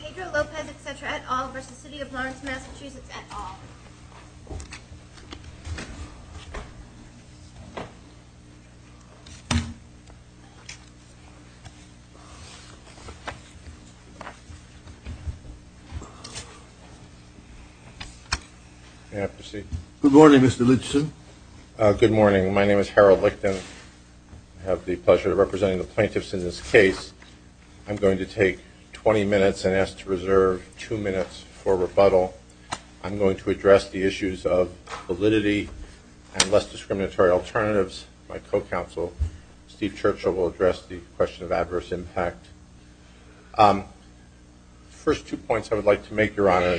v. City of Lawrence, Massachusetts, et al. Good morning, Mr. Lichten. Good morning. My name is Harold Lichten. I have the pleasure of representing the plaintiffs in this case. I'm going to take 20 minutes and ask to reserve two minutes for rebuttal. I'm going to address the issues of validity and less discriminatory alternatives. My co-counsel, Steve Churchill, will address the question of adverse impact. The first two points I would like to make, Your Honor,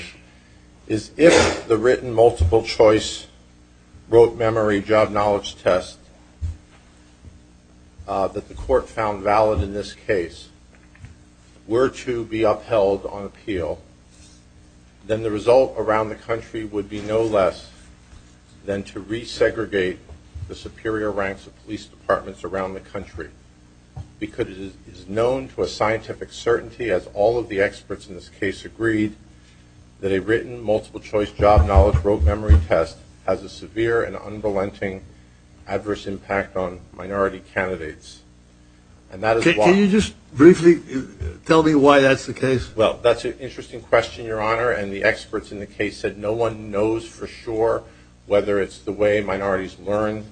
is if the written multiple choice rote memory job knowledge test that the court found valid in this case were to be upheld on appeal, then the result around the country would be no less than to resegregate the superior ranks of police departments around the country because it is known to a scientific certainty, as all of the experts in this case agreed, that a written multiple choice job knowledge rote memory test has a severe and unrelenting adverse impact on minority candidates. Can you just briefly tell me why that's the case? Well, that's an interesting question, Your Honor, and the experts in the case said no one knows for sure whether it's the way minorities learn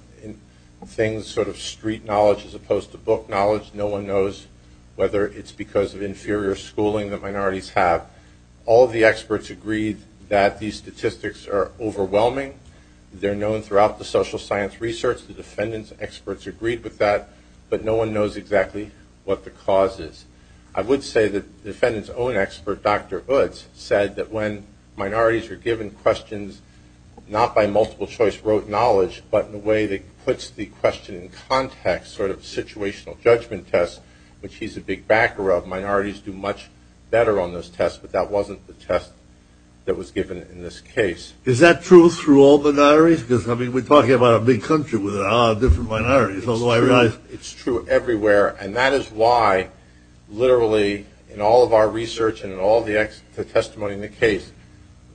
things, sort of street knowledge as opposed to book knowledge. No one knows whether it's because of inferior schooling that minorities have. All of the experts agreed that these statistics are overwhelming. They're known throughout the social science research. The defendant's experts agreed with that, but no one knows exactly what the cause is. I would say the defendant's own expert, Dr. Hoods, said that when minorities are given questions not by multiple choice rote knowledge, but in a way that puts the question in context, sort of situational judgment test, which he's a big backer of. Minorities do much better on this test, but that wasn't the test that was given in this case. Is that true through all minorities? I mean, we're talking about a big country with a lot of different minorities, although I realize it's true everywhere, and that is why, literally, in all of our research and in all the testimony in the case,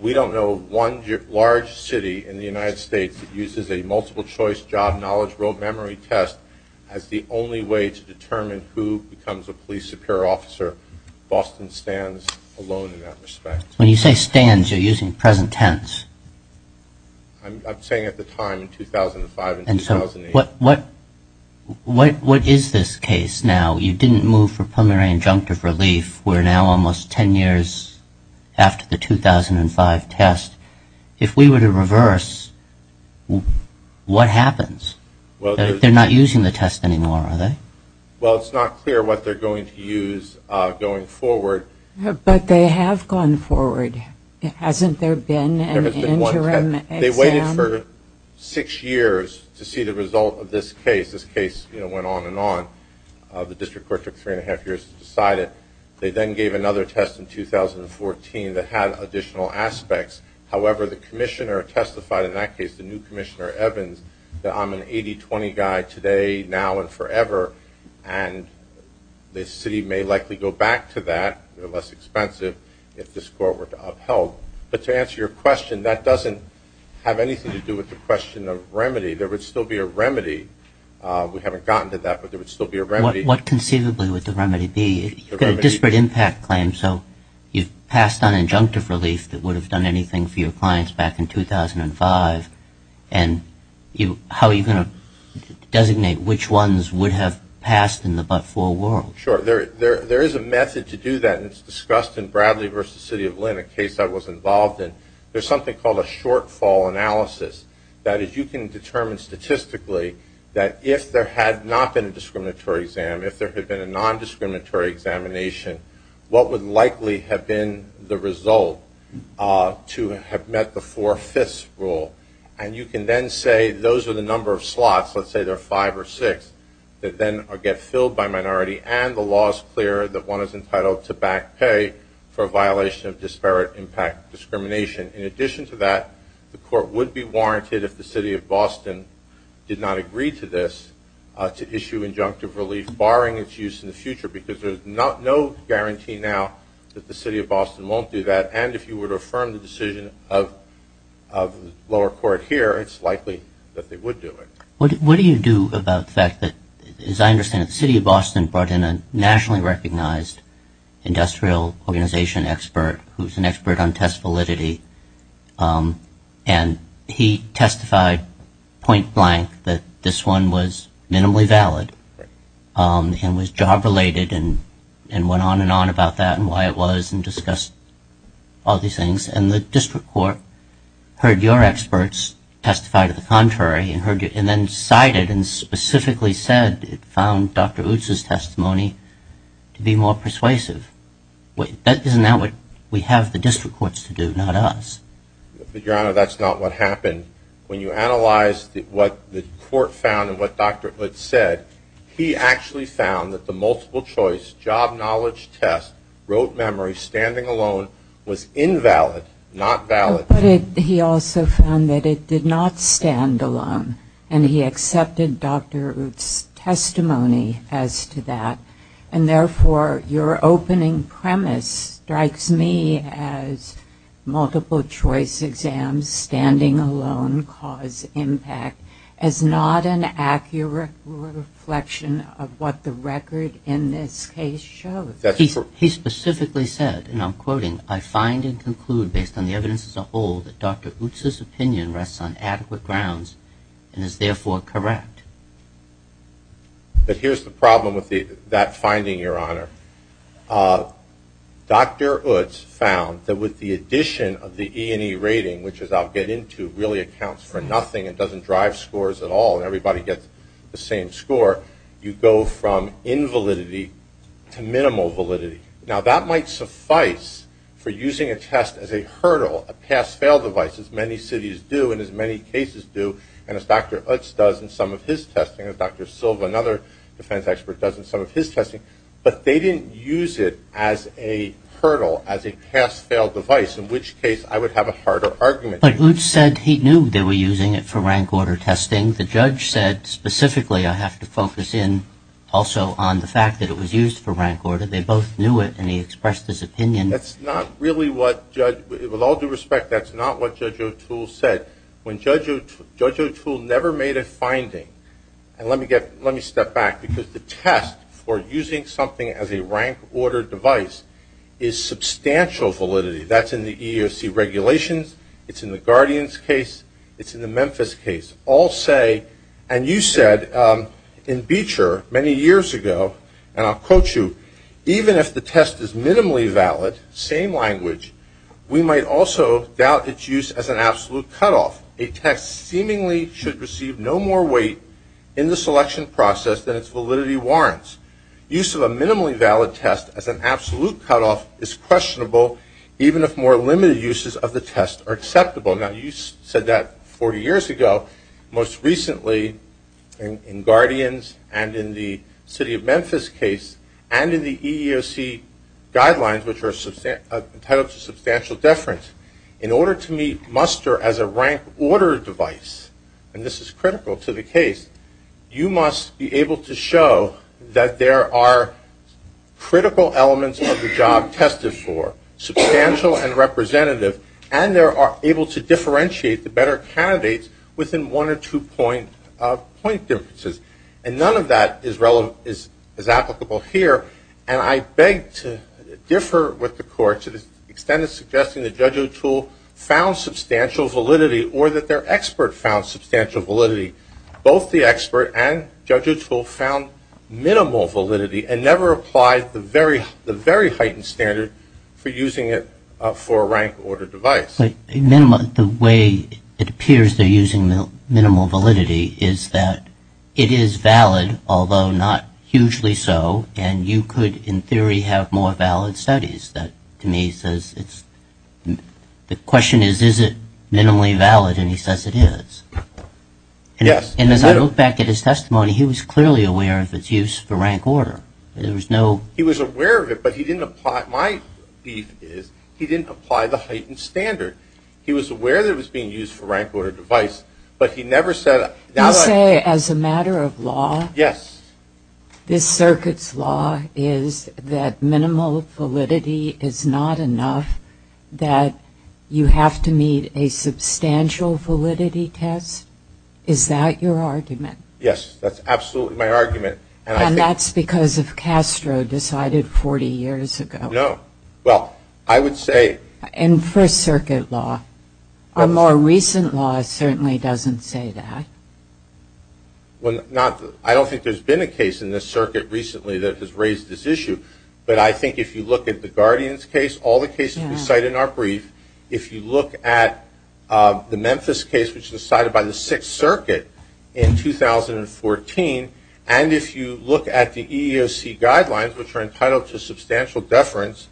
we don't know one large city in the United States that uses a multiple choice job knowledge rote memory test as the only way to determine who becomes a police superior officer. Boston stands alone in that respect. When you say stands, you're using present tense. I'm saying at the time in 2005 and 2008. And so what is this case now? You didn't move for preliminary injunctive relief. We're now almost 10 years after the 2005 test. If we were to reverse, what happens? They're not using the test anymore, are they? Well, it's not clear what they're going to use going forward. But they have gone forward. Hasn't there been an interim exam? They waited for six years to see the result of this case. This case went on and on. The district court took three and a half years to decide it. They then gave another test in 2014 that had additional aspects. However, the commissioner testified in that case, the new commissioner, Evans, that I'm an 80-20 guy today, now, and forever, and the city may likely go back to that. They're less expensive if the score were upheld. But to answer your question, that doesn't have anything to do with the question of remedy. There would still be a remedy. We haven't gotten to that, but there would still be a remedy. What conceivably would the remedy be? You've got a disparate impact claim, so you've passed on injunctive relief that would have done anything for your clients back in 2005, and how are you going to designate which ones would have passed in the but-for world? Sure. There is a method to do that, and it's discussed in Bradley v. City of Linn, a case I was involved in. There's something called a shortfall analysis. That is, you can determine statistically that if there had not been a discriminatory exam, if there had been a nondiscriminatory examination, what would likely have been the result to have met the four-fifths rule. And you can then say those are the number of slots, let's say there are five or six, that then get filled by minority, and the law is clear that one is entitled to back pay for a violation of disparate impact discrimination. In addition to that, the court would be warranted if the city of Boston did not agree to this, to issue injunctive relief barring its use in the future, because there's no guarantee now that the city of Boston won't do that, and if you were to affirm the decision of the lower court here, it's likely that they would do it. What do you do about the fact that, as I understand it, the city of Boston brought in a nationally recognized industrial organization expert who's an expert on test validity, and he testified point-blank that this one was minimally valid and was job-related and went on and on about that and why it was and discussed all these things, and the district court heard your experts testify to the contrary and then cited and specifically said it found Dr. Utz's testimony to be more persuasive? That's not what we have the district courts to do, not us. Your Honor, that's not what happened. When you analyze what the court found and what Dr. Utz said, he actually found that the multiple-choice job-knowledge test, rote memory, standing alone, was invalid, not valid. He also found that it did not stand alone, and he accepted Dr. Utz's testimony as to that, and therefore your opening premise strikes me as multiple-choice exams standing alone cause impact as not an accurate reflection of what the record in this case shows. He specifically said, and I'm quoting, I find and conclude based on the evidence as a whole that Dr. Utz's opinion rests on adequate grounds and is therefore correct. But here's the problem with that finding, Your Honor. Dr. Utz found that with the addition of the E&E rating, which, as I'll get into, really accounts for nothing and doesn't drive scores at all and everybody gets the same score, you go from invalidity to minimal validity. Now, that might suffice for using a test as a hurdle, a pass-fail device, as many cities do and as many cases do and as Dr. Utz does in some of his testing and Dr. Silva, another defense expert, does in some of his testing, but they didn't use it as a hurdle, as a pass-fail device, in which case I would have a harder argument. But Utz said he knew they were using it for rank-order testing. The judge said specifically, I have to focus in also on the fact that it was used for rank-order. They both knew it, and he expressed his opinion. With all due respect, that's not what Judge O'Toole said. Judge O'Toole never made a finding, and let me step back, because the test for using something as a rank-order device is substantial validity. That's in the EEOC regulations. It's in the Guardian's case. It's in the Memphis case. All say, and you said in Beecher many years ago, and I'll quote you, even if the test is minimally valid, same language, we might also doubt its use as an absolute cutoff. A test seemingly should receive no more weight in the selection process than its validity warrants. Use of a minimally valid test as an absolute cutoff is questionable, even if more limited uses of the test are acceptable. Now, you said that 40 years ago. Most recently, in Guardian's and in the city of Memphis case, and in the EEOC guidelines, which are competitive to substantial deference, in order to meet muster as a rank-order device, and this is critical to the case, you must be able to show that there are critical elements of the job tested for, substantial and representative, and they're able to differentiate the better candidates within one or two point differences, and none of that is applicable here, and I beg to differ with the court to the extent of suggesting that Judge O'Toole found substantial validity or that their expert found substantial validity. Both the expert and Judge O'Toole found minimal validity and never applied the very heightened standard for using it for a rank-order device. The way it appears they're using minimal validity is that it is valid, although not hugely so, and you could, in theory, have more valid studies. The question is, is it minimally valid, and he says it is. And as I look back at his testimony, he was clearly aware of its use for rank-order. He was aware of it, but he didn't apply the heightened standard. He was aware that it was being used for rank-order device, but he never said it. You say, as a matter of law, this circuit's law is that minimal validity is not enough, that you have to meet a substantial validity test. Is that your argument? Yes, that's absolutely my argument. And that's because of Castro decided 40 years ago. No. Well, I would say... And for circuit law. A more recent law certainly doesn't say that. Well, I don't think there's been a case in this circuit recently that has raised this issue, but I think if you look at the Guardians case, all the cases we cite in our brief, if you look at the Memphis case, which was cited by the Sixth Circuit in 2014, and if you look at the EEOC guidelines, which are entitled to substantial deference,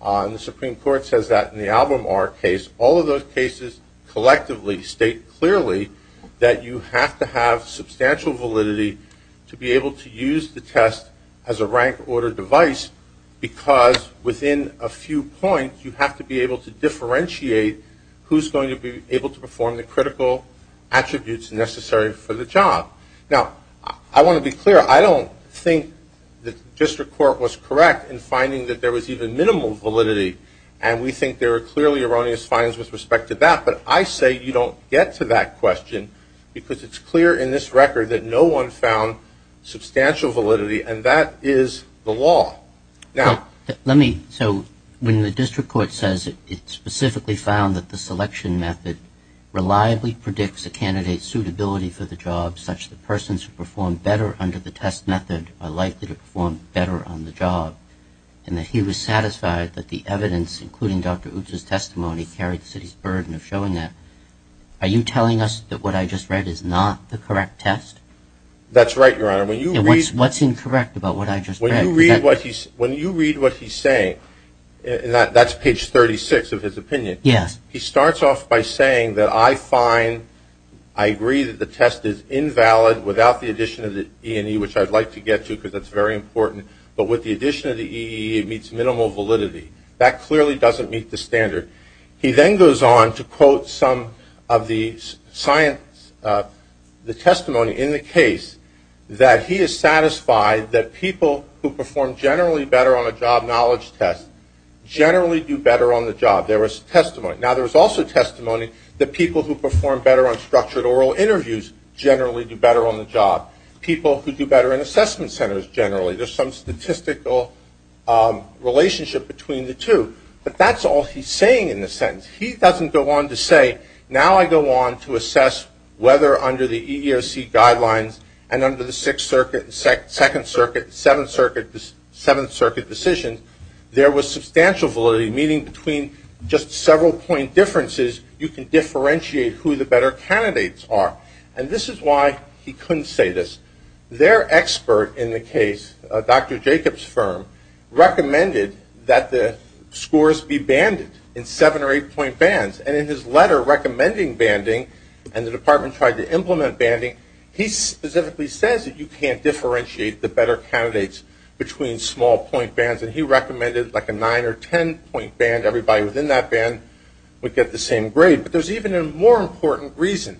and the Supreme Court says that in the Albemarle case, all of those cases collectively state clearly that you have to have substantial validity to be able to use the test as a rank-order device, because within a few points you have to be able to differentiate who's going to be able to perform the critical attributes necessary for the job. Now, I want to be clear. I don't think the district court was correct in finding that there was even minimal validity, and we think there were clearly erroneous findings with respect to that, but I say you don't get to that question, because it's clear in this record that no one found substantial validity, and that is the law. Now, let me, so when the district court says it specifically found that the selection method reliably predicts a candidate's suitability for the job, such that persons who perform better under the test method are likely to perform better on the job, and that he was satisfied that the evidence, including Dr. Upps' testimony, carried the city's burden of showing that, are you telling us that what I just read is not the correct test? That's right, Your Honor. What's incorrect about what I just read? When you read what he's saying, and that's page 36 of his opinion, he starts off by saying that I find, I agree that the test is invalid without the addition of the E&E, which I'd like to get to, because that's very important, but with the addition of the E&E it meets minimal validity. That clearly doesn't meet the standard. He then goes on to quote some of the science, the testimony in the case, that he is satisfied that people who perform generally better on a job knowledge test, generally do better on the job. There was testimony. Now, there was also testimony that people who perform better on structured oral interviews generally do better on the job. People who do better in assessment centers generally. There's some statistical relationship between the two. But that's all he's saying in the sentence. He doesn't go on to say, now I go on to assess whether under the EEOC guidelines and under the Second Circuit, Seventh Circuit decision, there was substantial validity, meaning between just several point differences you can differentiate who the better candidates are. And this is why he couldn't say this. Their expert in the case, Dr. Jacobs's firm, recommended that the scores be banded in seven or eight point bands. And in his letter recommending banding, and the department tried to implement banding, he specifically says that you can't differentiate the better candidates between small point bands. And he recommended like a nine or ten point band. Everybody within that band would get the same grade. But there's even a more important reason.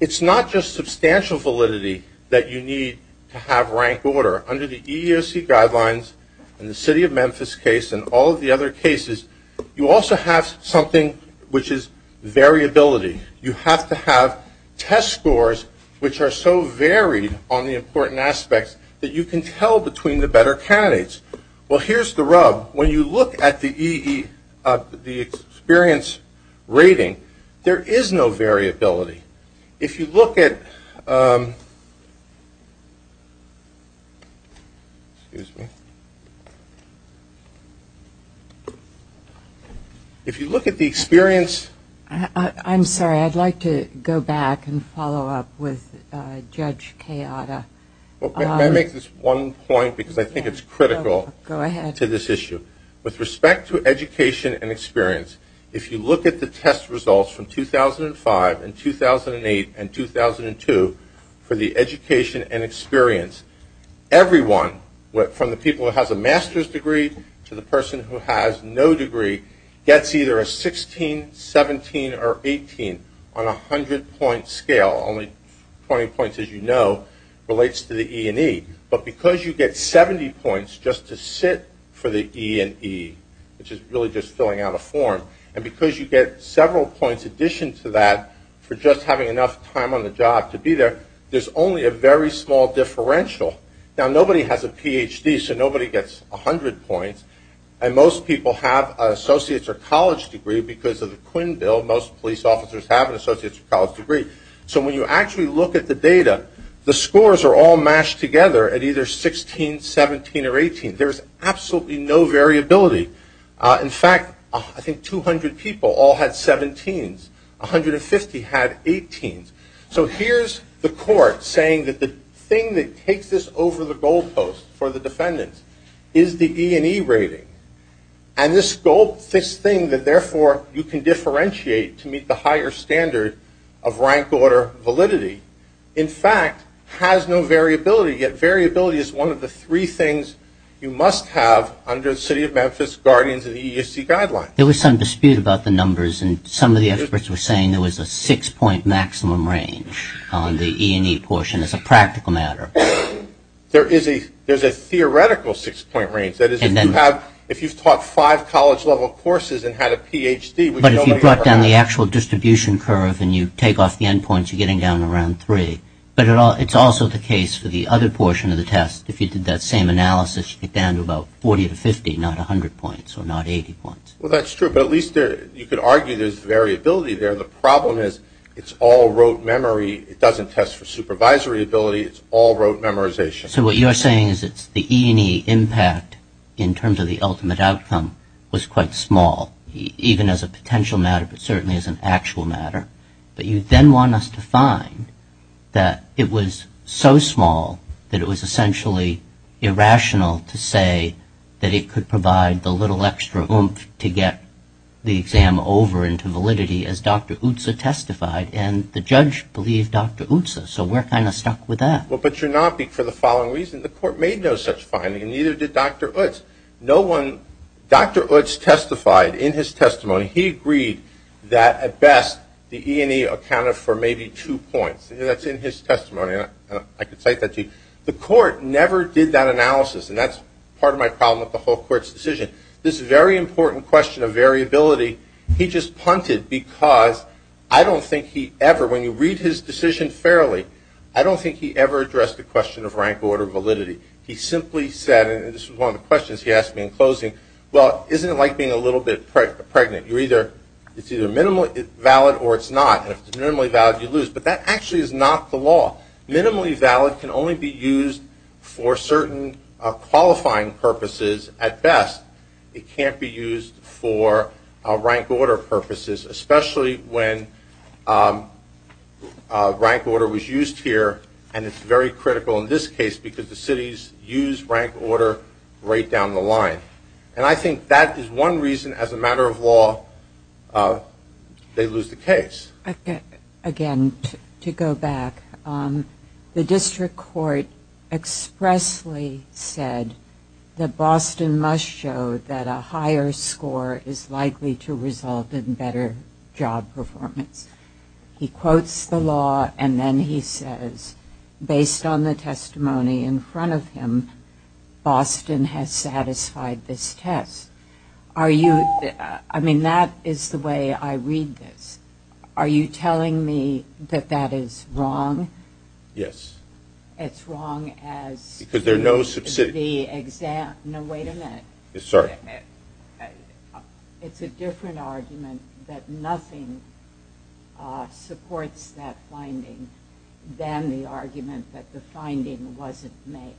It's not just substantial validity that you need to have rank order. Under the EEOC guidelines, in the City of Memphis case and all of the other cases, you also have something which is variability. You have to have test scores which are so varied on the important aspects that you can tell between the better candidates. Well, here's the rub. When you look at the EEOC, the experience rating, there is no variability. If you look at the experience. I'm sorry. I'd like to go back and follow up with Judge Keada. Can I make this one point? Because I think it's critical to this issue. With respect to education and experience, if you look at the test results from 2005 and 2008 and 2002, for the education and experience, everyone, from the people who have a master's degree to the person who has no degree, gets either a 16, 17, or 18 on a hundred point scale. Only 20 points, as you know, relates to the E&E. But because you get 70 points just to sit for the E&E, which is really just filling out a form, and because you get several points in addition to that for just having enough time on the job to be there, there's only a very small differential. Now, nobody has a PhD, so nobody gets a hundred points. And most people have an associate's or college degree because of the Quinn Bill. Most police officers have an associate's or college degree. So when you actually look at the data, the scores are all mashed together at either 16, 17, or 18. There's absolutely no variability. In fact, I think 200 people all had 17s. 150 had 18s. So here's the court saying that the thing that takes this over the goalpost for the defendant is the E&E rating. And this goal, this thing that, therefore, you can differentiate to meet the higher standard of rank order validity, in fact, has no variability. Yet variability is one of the three things you must have under the city of Memphis guardians and EEOC guidelines. There was some dispute about the numbers, and some of the experts were saying there was a six-point maximum range on the E&E portion as a practical matter. There is a theoretical six-point range. That is, if you've taught five college-level courses and had a Ph.D. But if you brought down the actual distribution curve and you take off the end points, you're getting down around three. But it's also the case for the other portion of the test. If you did that same analysis, you get down to about 40 to 50, not 100 points or not 80 points. Well, that's true. But at least you could argue there's variability there. The problem is it's all rote memory. It doesn't test for supervisory ability. It's all rote memorization. So what you're saying is that the E&E impact in terms of the ultimate outcome was quite small, even as a potential matter, but certainly as an actual matter. But you then want us to find that it was so small that it was essentially irrational to say that it could provide the little extra oomph to get the exam over into validity, as Dr. Utsa testified. And the judge believed Dr. Utsa, so we're kind of stuck with that. Well, but you're not for the following reason. The court made no such finding and neither did Dr. Utsa. Dr. Utsa testified in his testimony. He agreed that at best the E&E accounted for maybe two points. That's in his testimony. I can cite that to you. The court never did that analysis, and that's part of my problem with the whole court's decision. This very important question of variability, he just punted because I don't think he ever, when you read his decision fairly, I don't think he ever addressed the question of rank order validity. He simply said, and this was one of the questions he asked me in closing, well, isn't it like being a little bit pregnant? It's either valid or it's not, and if it's minimally valid, you lose. But that actually is not the law. Minimally valid can only be used for certain qualifying purposes at best. It can't be used for rank order purposes, especially when rank order was used here, and it's very critical in this case because the cities use rank order right down the line. And I think that is one reason, as a matter of law, they lose the case. Again, to go back, the district court expressly said that Boston must show that a higher score is likely to result in better job performance. He quotes the law, and then he says, based on the testimony in front of him, Boston has satisfied this test. Are you – I mean, that is the way I read this. Are you telling me that that is wrong? Yes. It's wrong as – Because there are no subsidies. No, wait a minute. Sorry. It's a different argument that nothing supports that finding than the argument that the finding wasn't made.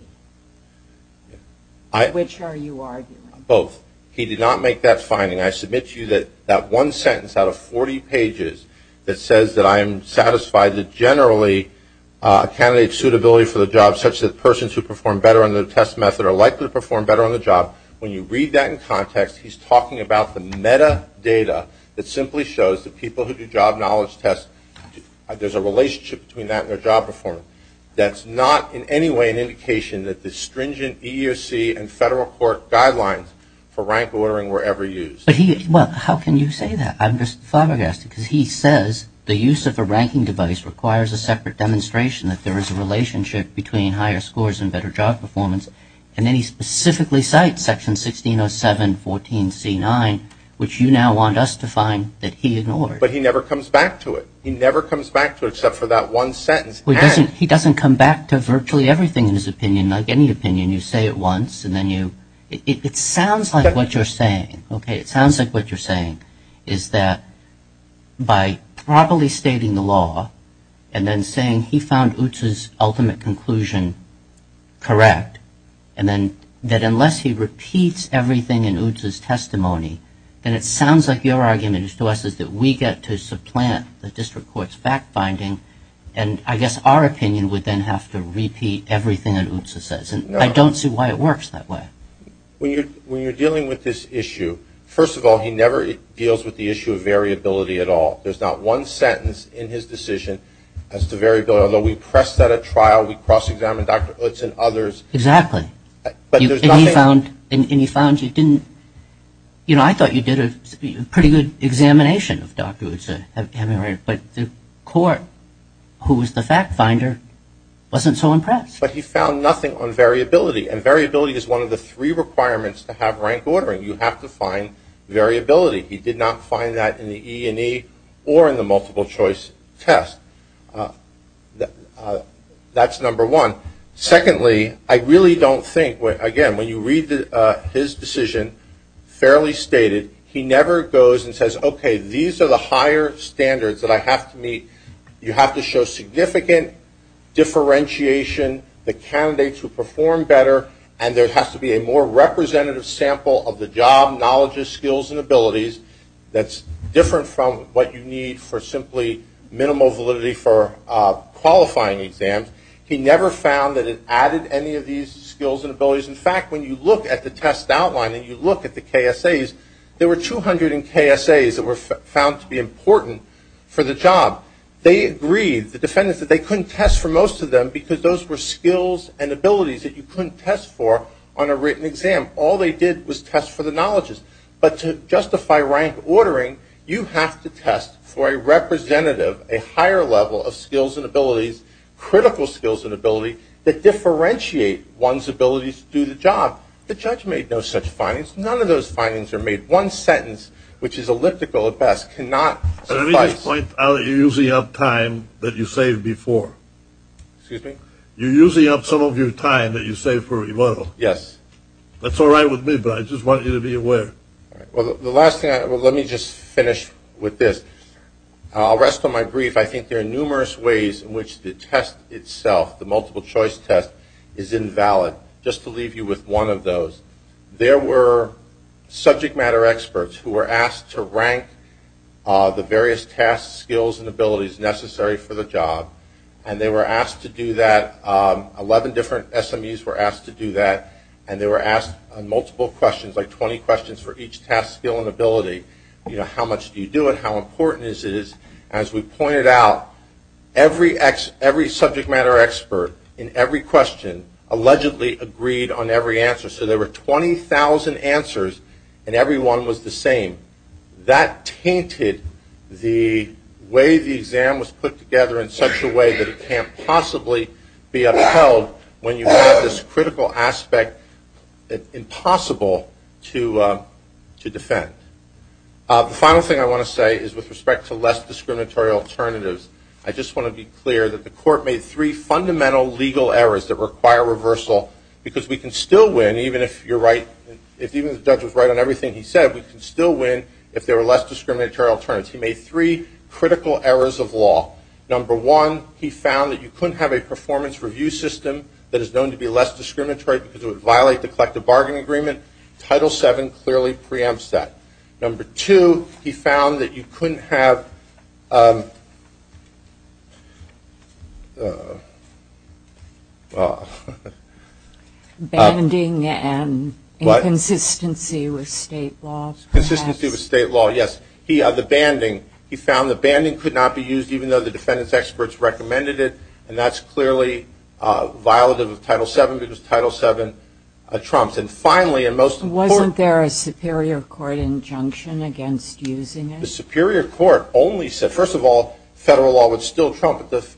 Which are you arguing? Both. He did not make that finding. I submit to you that that one sentence out of 40 pages that says that I am satisfied that generally a candidate's suitability for the job, such that persons who perform better on the test method are likely to perform better on the job, when you read that in context, he's talking about the metadata that simply shows that people who do job knowledge tests, there's a relationship between that and their job performance. That's not in any way an indication that the stringent EEOC and federal court guidelines for rank ordering were ever used. But he – well, how can you say that? I'm just flabbergasted because he says the use of a ranking device requires a separate demonstration that there is a relationship between higher scores and better job performance, and then he specifically cites section 160714C9, which you now want us to find that he ignored. But he never comes back to it. He never comes back to it except for that one sentence. He doesn't come back to virtually everything in his opinion, not any opinion. You say it once, and then you – it sounds like what you're saying, okay? It sounds like what you're saying is that by properly stating the law and then saying he found Utz's ultimate conclusion correct, and then that unless he repeats everything in Utz's testimony, then it sounds like your argument to us is that we get to supplant the district court's fact-finding and I guess our opinion would then have to repeat everything that Utz says. I don't see why it works that way. When you're dealing with this issue, first of all, he never deals with the issue of variability at all. There's not one sentence in his decision as to variability, although we pressed that at trial, we cross-examined Dr. Utz and others. Exactly. And he found he didn't – you know, I thought you did a pretty good examination of Dr. Utz, but the court, who was the fact-finder, wasn't so impressed. But he found nothing on variability, and variability is one of the three requirements to have rank ordering. You have to find variability. He did not find that in the E&E or in the multiple-choice test. That's number one. Secondly, I really don't think – again, when you read his decision, fairly stated, he never goes and says, okay, these are the higher standards that I have to meet. You have to show significant differentiation. The candidates will perform better, and there has to be a more representative sample of the job, knowledge, skills, and abilities that's different from what you need for simply minimal validity for qualifying exams. He never found that it added any of these skills and abilities. In fact, when you look at the test outline and you look at the KSAs, there were 200 KSAs that were found to be important for the job. They agreed, the defendants, that they couldn't test for most of them because those were skills and abilities that you couldn't test for on a written exam. All they did was test for the knowledges. But to justify rank ordering, you have to test for a representative, a higher level of skills and abilities, critical skills and ability, that differentiate one's ability to do the job. The judge made no such findings. None of those findings are made. One sentence, which is elliptical at best, cannot suffice. Let me just point out you're using up time that you saved before. Excuse me? You're using up some of your time that you saved for rebuttal. Yes. That's all right with me, but I just want you to be aware. Well, the last thing, let me just finish with this. I'll rest on my brief. I think there are numerous ways in which the test itself, the multiple choice test, is invalid. Just to leave you with one of those. There were subject matter experts who were asked to rank the various tasks, skills, and abilities necessary for the job, and they were asked to do that. Eleven different SMUs were asked to do that, and they were asked multiple questions, like 20 questions for each task, skill, and ability. How much do you do it? How important is it? As we pointed out, every subject matter expert in every question allegedly agreed on every answer. So there were 20,000 answers, and every one was the same. That tainted the way the exam was put together in such a way that it can't possibly be upheld when you have this critical aspect that's impossible to defend. The final thing I want to say is with respect to less discriminatory alternatives, I just want to be clear that the court made three fundamental legal errors that require reversal because we can still win, even if the judge was right on everything he said, we can still win if there were less discriminatory alternatives. He made three critical errors of law. Number one, he found that you couldn't have a performance review system that is known to be less discriminatory because it would violate the collective bargaining agreement. Title VII clearly preempts that. Number two, he found that you couldn't have... Banding and inconsistency with state law. Consistency with state law, yes. The banding, he found the banding could not be used even though the defendant's experts recommended it, and that's clearly violative of Title VII because Title VII trumps. And finally... Wasn't there a superior court injunction against using it? The superior court only said... First of all, federal law would still trump, but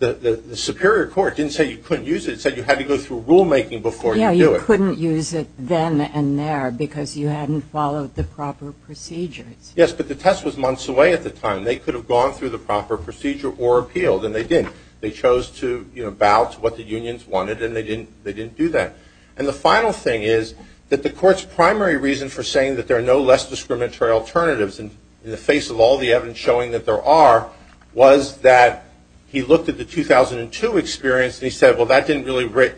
the superior court didn't say you couldn't use it. It said you had to go through rulemaking before you do it. Yeah, you couldn't use it then and there because you hadn't followed the proper procedures. Yes, but the test was months away at the time. They could have gone through the proper procedure or appeals, and they didn't. They chose to bow to what the unions wanted, and they didn't do that. And the final thing is that the court's primary reason for saying that there are no less discriminatory alternatives in the face of all the evidence showing that there are was that he looked at the 2002 experience and he said, well, that didn't really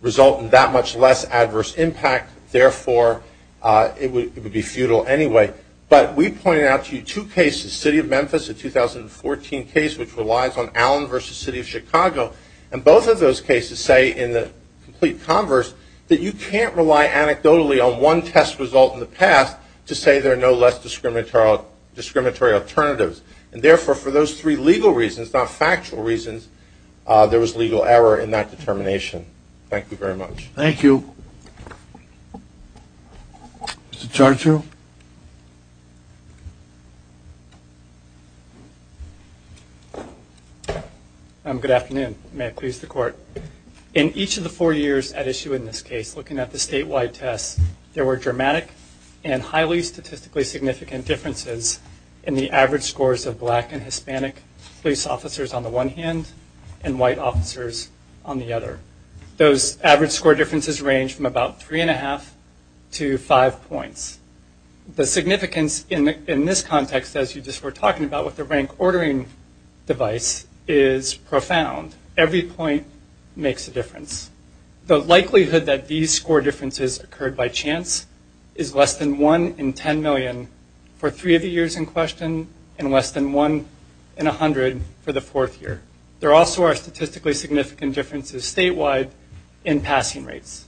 result in that much less adverse impact, therefore it would be futile anyway. But we pointed out to you two cases, City of Memphis, a 2014 case which relies on Allen v. City of Chicago, and both of those cases say in the complete converse that you can't rely anecdotally on one test result in the past to say there are no less discriminatory alternatives. And therefore, for those three legal reasons, not factual reasons, there was legal error in that determination. Thank you very much. Thank you. Mr. Charger. Good afternoon. May I please the court? In each of the four years at issue in this case, looking at the statewide test, there were dramatic and highly statistically significant differences in the average scores of black and Hispanic police officers on the one hand and white officers on the other. Those average score differences range from about three and a half to five points. The significance in this context, as you just were talking about with the rank ordering device, is profound. Every point makes a difference. The likelihood that these score differences occurred by chance is less than 1 in 10 million for three of the years in question and less than 1 in 100 for the fourth year. There also are statistically significant differences statewide in passing rates.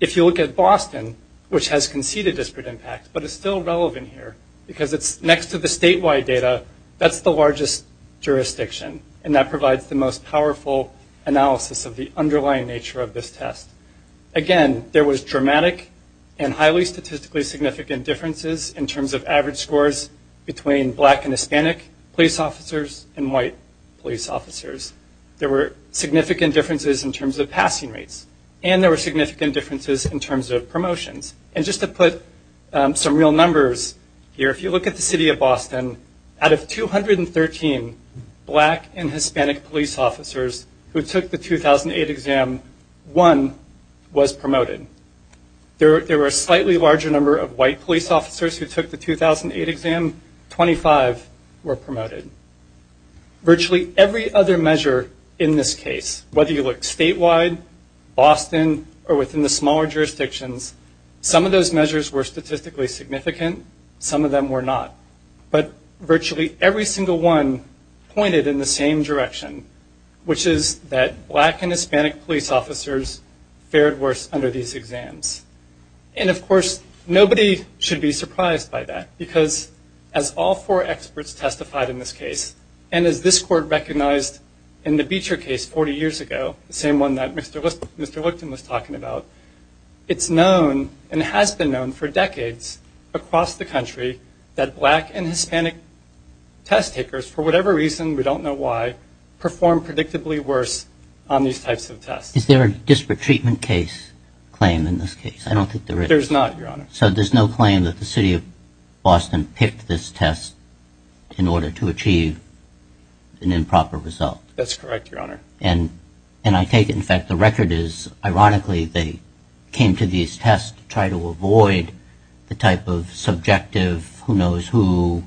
If you look at Boston, which has conceded disparate impact but is still relevant here because it's next to the statewide data, that's the largest jurisdiction and that provides the most powerful analysis of the underlying nature of this test. Again, there was dramatic and highly statistically significant differences in terms of average scores between black and Hispanic police officers and white police officers. There were significant differences in terms of passing rates and there were significant differences in terms of promotions. Just to put some real numbers here, if you look at the city of Boston, out of 213 black and Hispanic police officers who took the 2008 exam, one was promoted. There were a slightly larger number of white police officers who took the 2008 exam. 25 were promoted. Virtually every other measure in this case, whether you look statewide, Boston, or within the smaller jurisdictions, some of those measures were statistically significant, some of them were not. But virtually every single one pointed in the same direction, which is that black and Hispanic police officers fared worse under these exams. And of course, nobody should be surprised by that because as all four experts testified in this case and as this court recognized in the Beecher case 40 years ago, the same one that Mr. Lipton was talking about, it's known and has been known for decades across the country that black and Hispanic test takers, for whatever reason, we don't know why, perform predictably worse on these types of tests. Is there a disparate treatment case claim in this case? I don't think there is. There's not, Your Honor. So there's no claim that the city of Boston picked this test in order to achieve an improper result? That's correct, Your Honor. And I take it, in fact, the record is, ironically, they came to these tests to try to avoid the type of subjective who-knows-who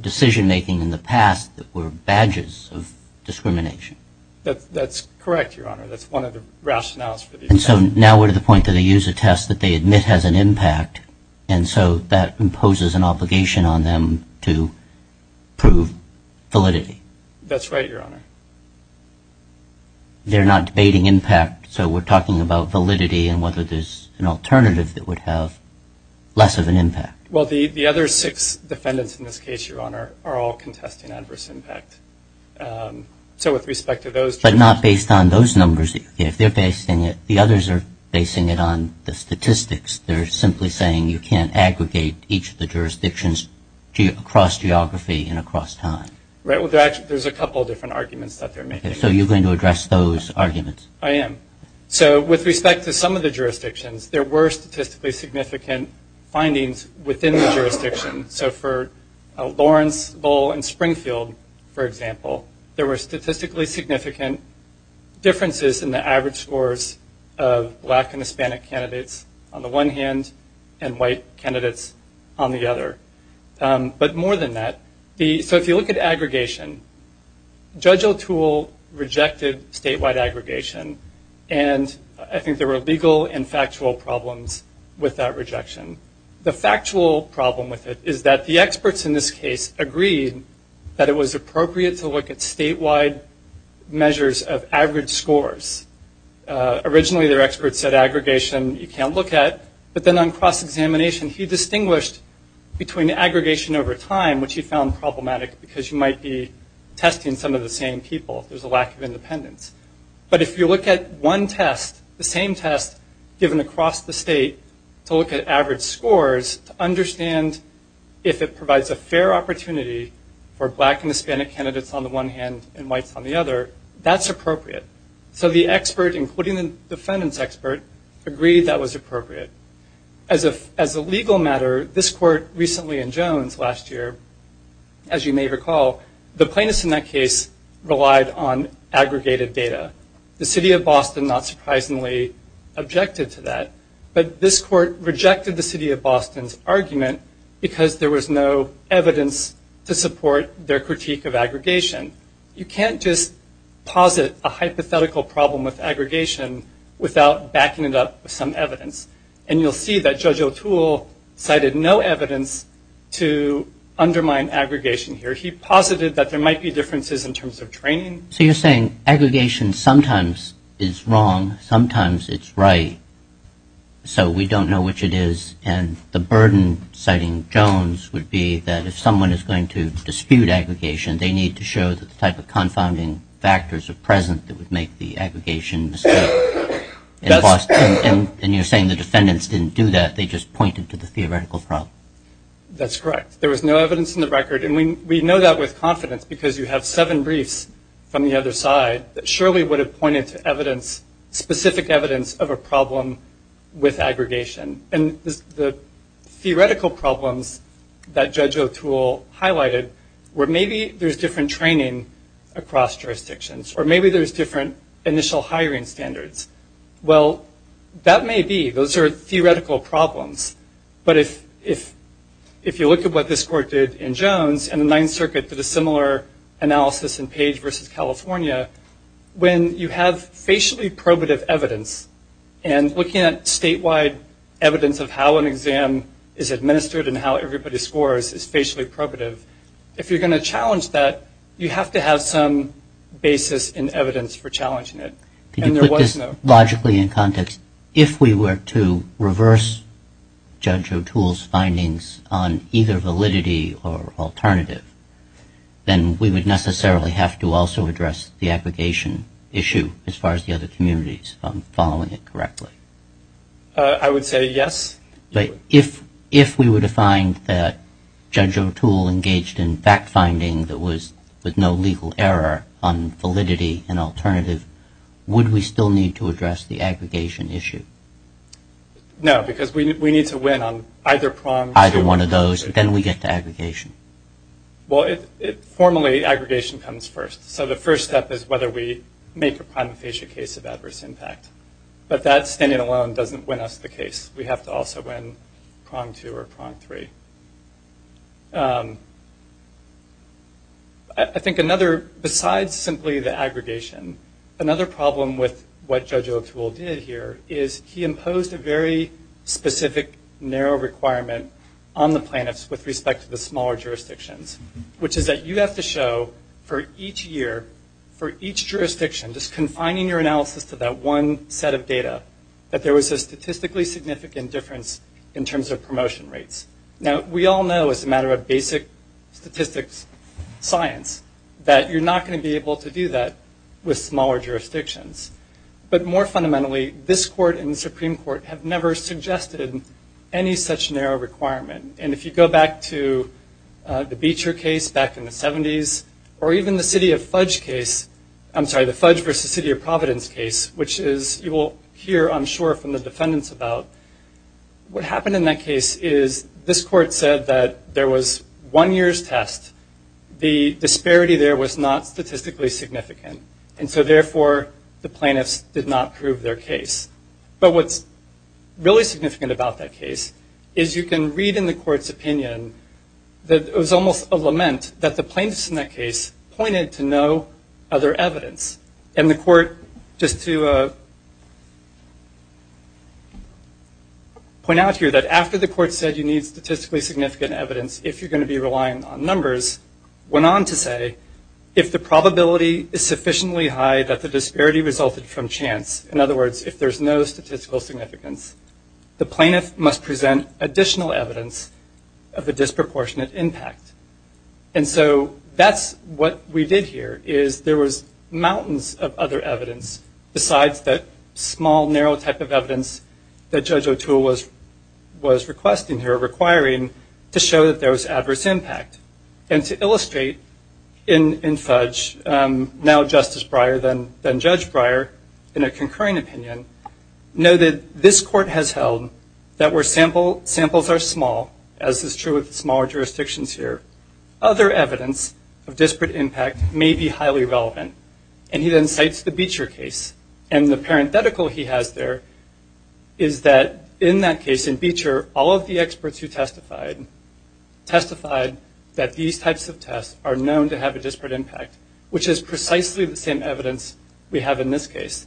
decision-making in the past that were badges of discrimination. That's correct, Your Honor. That's one of the rationales. And so now we're to the point that they use a test that they admit has an impact and so that imposes an obligation on them to prove validity. That's right, Your Honor. They're not debating impact, so we're talking about validity and whether there's an alternative that would have less of an impact. Well, the other six defendants in this case, Your Honor, are all contesting adverse impact. So with respect to those- But not based on those numbers. If they're basing it, the others are basing it on the statistics. They're simply saying you can't aggregate each of the jurisdictions across geography and across time. Right. Well, there's a couple of different arguments that they're making. So you're going to address those arguments? I am. So with respect to some of the jurisdictions, there were statistically significant findings within the jurisdiction. So for Lawrence, Lowell, and Springfield, for example, there were statistically significant differences in the average scores of black and Hispanic candidates on the one hand and white candidates on the other. But more than that, so if you look at aggregation, Judge O'Toole rejected statewide aggregation, and I think there were legal and factual problems with that rejection. The factual problem with it is that the experts in this case agreed that it was appropriate to look at statewide measures of average scores. Originally, their experts said aggregation you can't look at, but then on cross-examination, he distinguished between aggregation over time, which he found problematic because you might be testing some of the same people. There's a lack of independence. But if you look at one test, the same test given across the state, to look at average scores to understand if it provides a fair opportunity for black and Hispanic candidates on the one hand and whites on the other, that's appropriate. So the expert, including the defendants expert, agreed that was appropriate. As a legal matter, this court recently in Jones last year, as you may recall, the plaintiffs in that case relied on aggregated data. The city of Boston not surprisingly objected to that. But this court rejected the city of Boston's argument because there was no evidence to support their critique of aggregation. You can't just posit a hypothetical problem with aggregation without backing it up with some evidence. And you'll see that Judge O'Toole cited no evidence to undermine aggregation here. He posited that there might be differences in terms of training. So you're saying aggregation sometimes is wrong, sometimes it's right, so we don't know which it is. And the burden, citing Jones, would be that if someone is going to dispute aggregation, they need to show the type of confounding factors of presence that would make the aggregation mistake. And you're saying the defendants didn't do that, they just pointed to the theoretical problem. That's correct. There was no evidence in the record, and we know that with confidence because you have seven briefs from the other side that surely would have pointed to specific evidence of a problem with aggregation. And the theoretical problems that Judge O'Toole highlighted were maybe there's different training across jurisdictions or maybe there's different initial hiring standards. Well, that may be. Those are theoretical problems. But if you look at what this court did in Jones and the Ninth Circuit did a similar analysis in Page v. California, when you have spatially probative evidence and looking at statewide evidence of how an exam is administered and how everybody scores is spatially probative, if you're going to challenge that, you have to have some basis in evidence for challenging it. Can you put this logically in context? If we were to reverse Judge O'Toole's findings on either validity or alternative, then we would necessarily have to also address the aggregation issue as far as the other communities following it correctly. I would say yes. If we were to find that Judge O'Toole engaged in fact-finding that was with no legal error on validity and alternative, would we still need to address the aggregation issue? No, because we need to win on either prong. We need to win on either one of those, and then we get to aggregation. Well, formally, aggregation comes first. So the first step is whether we make a primifacia case of adverse impact. But that standing alone doesn't win us the case. We have to also win prong two or prong three. I think another, besides simply the aggregation, another problem with what Judge O'Toole did here is he imposed a very specific, narrow requirement on the plaintiffs with respect to the smaller jurisdictions, which is that you have to show for each year, for each jurisdiction, just confining your analysis to that one set of data, that there was a statistically significant difference in terms of promotion rates. Now, we all know as a matter of basic statistics science that you're not going to be able to do that with smaller jurisdictions. But more fundamentally, this court and the Supreme Court have never suggested any such narrow requirement. And if you go back to the Beecher case back in the 70s, or even the City of Fudge case, I'm sorry, the Fudge versus City of Providence case, which you will hear, I'm sure, from the defendants about, what happened in that case is this court said that there was one year's test. The disparity there was not statistically significant. And so, therefore, the plaintiffs did not prove their case. But what's really significant about that case is you can read in the court's opinion that it was almost a lament that the plaintiffs in that case pointed to no other evidence. And the court, just to point out here, that after the court said you need statistically significant evidence if you're going to be reliant on numbers, went on to say, if the probability is sufficiently high that the disparity resulted from chance, in other words, if there's no statistical significance, the plaintiff must present additional evidence of a disproportionate impact. And so that's what we did here is there was mountains of other evidence besides that small, narrow type of evidence that Judge O'Toole was requesting here, requiring to show that there was adverse impact. And to illustrate in such, now Justice Breyer, then Judge Breyer, in a concurring opinion, noted this court has held that where samples are small, as is true with smaller jurisdictions here, other evidence of disparate impact may be highly relevant. And he then cites the Beecher case. And the parenthetical he has there is that in that case, in Beecher, all of the experts who testified testified that these types of tests are known to have a disparate impact, which is precisely the same evidence we have in this case.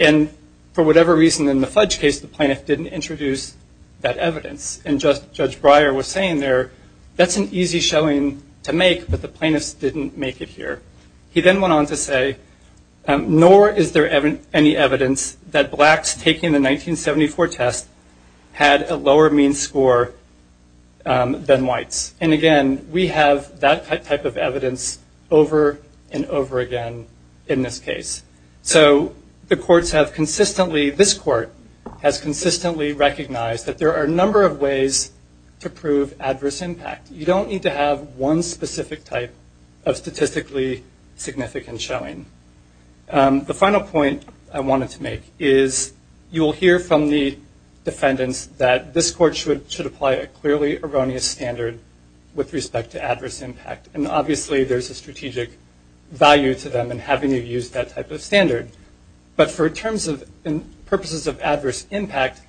And for whatever reason, in the Fudge case, the plaintiff didn't introduce that evidence. And Judge Breyer was saying there, that's an easy showing to make, but the plaintiffs didn't make it here. He then went on to say, nor is there any evidence that blacks taking the 1974 test had a lower mean score than whites. And, again, we have that type of evidence over and over again in this case. So the courts have consistently, this court has consistently recognized that there are a number of ways to prove adverse impact. You don't need to have one specific type of statistically significant showing. The final point I wanted to make is you will hear from the defendants that this court should apply a clearly erroneous standard with respect to adverse impact. And, obviously, there's a strategic value to them in having to use that type of standard. But for purposes of adverse impact,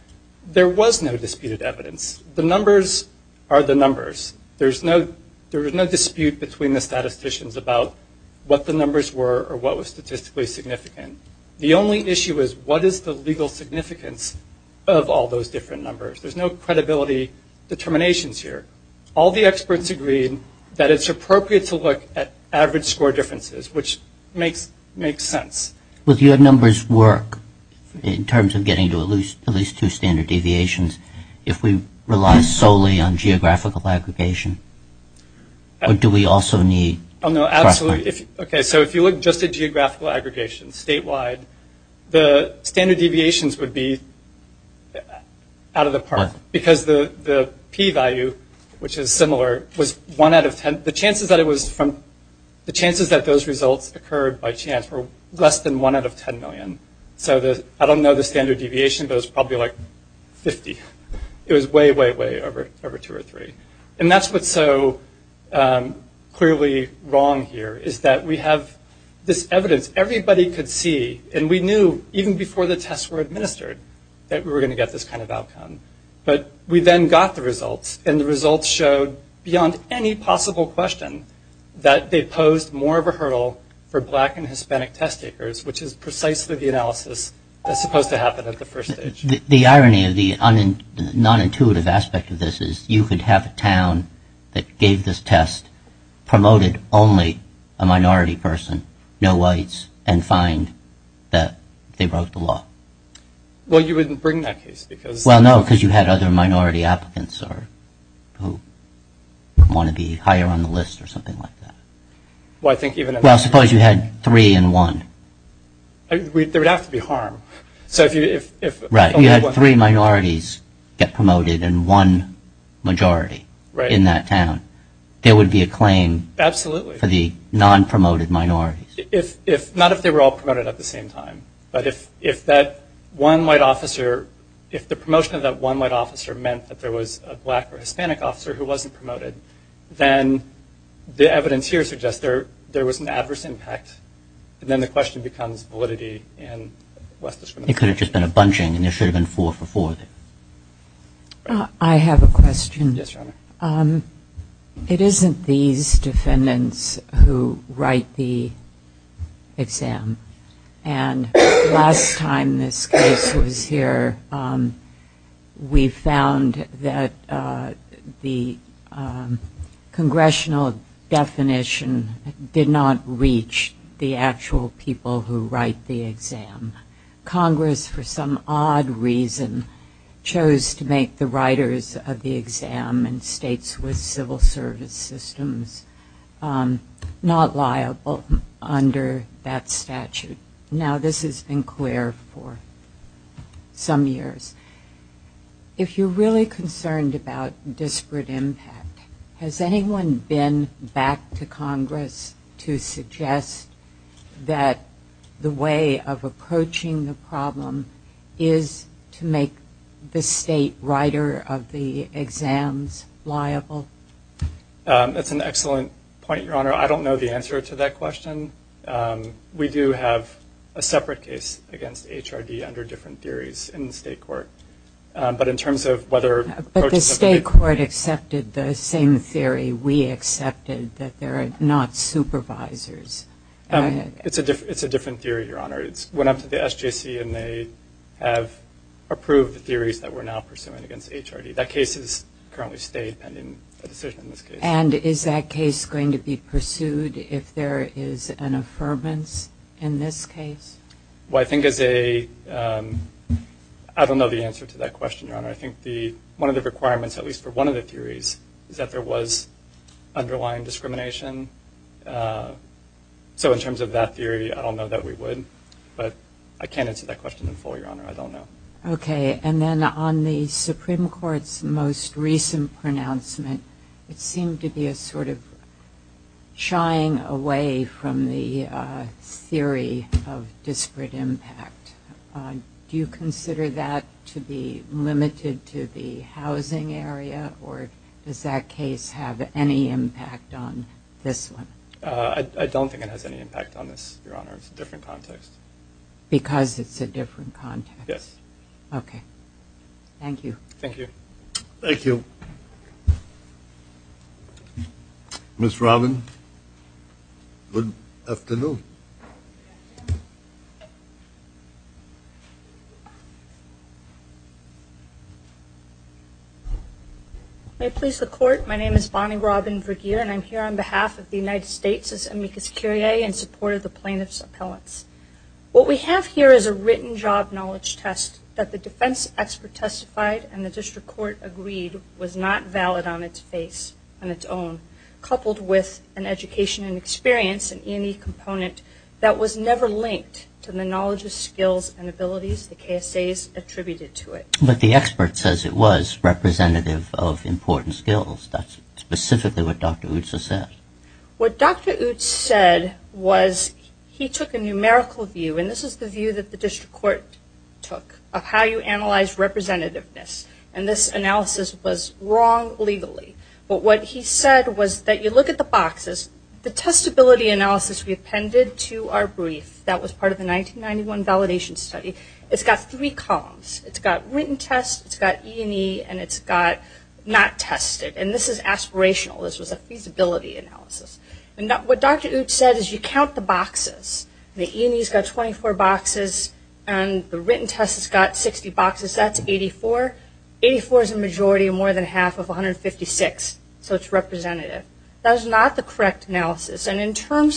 there was no disputed evidence. The numbers are the numbers. There's no dispute between the statisticians about what the numbers were or what was statistically significant. The only issue is what is the legal significance of all those different numbers. There's no credibility determinations here. All the experts agree that it's appropriate to look at average score differences, which makes sense. Well, do your numbers work in terms of getting to at least two standard deviations if we rely solely on geographical aggregation? Or do we also need- Oh, no, absolutely. Okay, so if you look just at geographical aggregation statewide, the standard deviations would be out of the park. Because the P value, which is similar, was one out of ten. The chances that those results occurred by chance were less than one out of ten million. So I don't know the standard deviation, but it was probably like 50. It was way, way, way over two or three. And that's what's so clearly wrong here is that we have this evidence everybody could see, and we knew even before the tests were administered that we were going to get this kind of outcome. But we then got the results, and the results showed, beyond any possible question, that they posed more of a hurdle for black and Hispanic test takers, which is precisely the analysis that's supposed to happen at the first stage. The irony of the nonintuitive aspect of this is you could have a town that gave this test, promoted only a minority person, no whites, and find that they broke the law. Well, you wouldn't bring that case because- Well, no, because you had other minority applicants who want to be higher on the list or something like that. Well, I think even- Well, suppose you had three and one. There would have to be harm. Right. If you had three minorities get promoted and one majority in that town, there would be a claim for the non-promoted minorities. Not if they were all promoted at the same time. But if that one white officer- if the promotion of that one white officer meant that there was a black or Hispanic officer who wasn't promoted, then the evidence here suggests there was an adverse impact, and then the question becomes validity and less discrimination. It could have just been a bunching, and there should have been four for fours. I have a question. Yes, sure. It isn't these defendants who write the exam. And last time this case was here, we found that the congressional definition did not reach the actual people who write the exam. Congress, for some odd reason, chose to make the writers of the exam and states with civil service systems not liable under that statute. Now, this has been clear for some years. If you're really concerned about disparate impact, has anyone been back to Congress to suggest that the way of approaching the problem is to make the state writer of the exams liable? That's an excellent point, Your Honor. I don't know the answer to that question. We do have a separate case against HRD under different theories in the state court. But in terms of whether- The state court accepted the same theory we accepted, that there are not supervisors. It's a different theory, Your Honor. It went up to the SJC, and they have approved the theories that we're now pursuing against HRD. That case is currently state pending a decision in this case. And is that case going to be pursued if there is an affirmance in this case? Well, I think that they-I don't know the answer to that question, Your Honor. I think one of the requirements, at least for one of the theories, is that there was underlying discrimination. So in terms of that theory, I don't know that we would. But I can't answer that question in full, Your Honor. I don't know. Okay. And then on the Supreme Court's most recent pronouncement, it seemed to be a sort of shying away from the theory of disparate impact. Do you consider that to be limited to the housing area, or does that case have any impact on this one? I don't think it has any impact on this, Your Honor. It's a different context. Because it's a different context? Yes. Okay. Thank you. Thank you. Thank you. Ms. Robin, good afternoon. May it please the Court, my name is Bonnie Robin Vergeer, and I'm here on behalf of the United States as amicus curiae in support of the plaintiff's appellants. What we have here is a written job knowledge test that the defense expert testified and the district court agreed was not valid on its face on its own, coupled with an education and experience in any component that was never linked to the knowledge of skills and abilities the KSAs attributed to it. But the expert says it was representative of important skills. That's specifically what Dr. Utsa said. What Dr. Utsa said was he took a numerical view, and this is the view that the district court took of how you analyze representativeness, and this analysis was wrong legally. But what he said was that you look at the boxes. The testability analysis we appended to our brief that was part of the 1991 validation study, it's got three columns. It's got written tests, it's got E&E, and it's got not tested. And this is aspirational. This was a feasibility analysis. And what Dr. Utsa said is you count the boxes. The E&E's got 24 boxes, and the written test has got 60 boxes. That's 84. 84 is a majority and more than half of 156, so it's representative. That is not the correct analysis.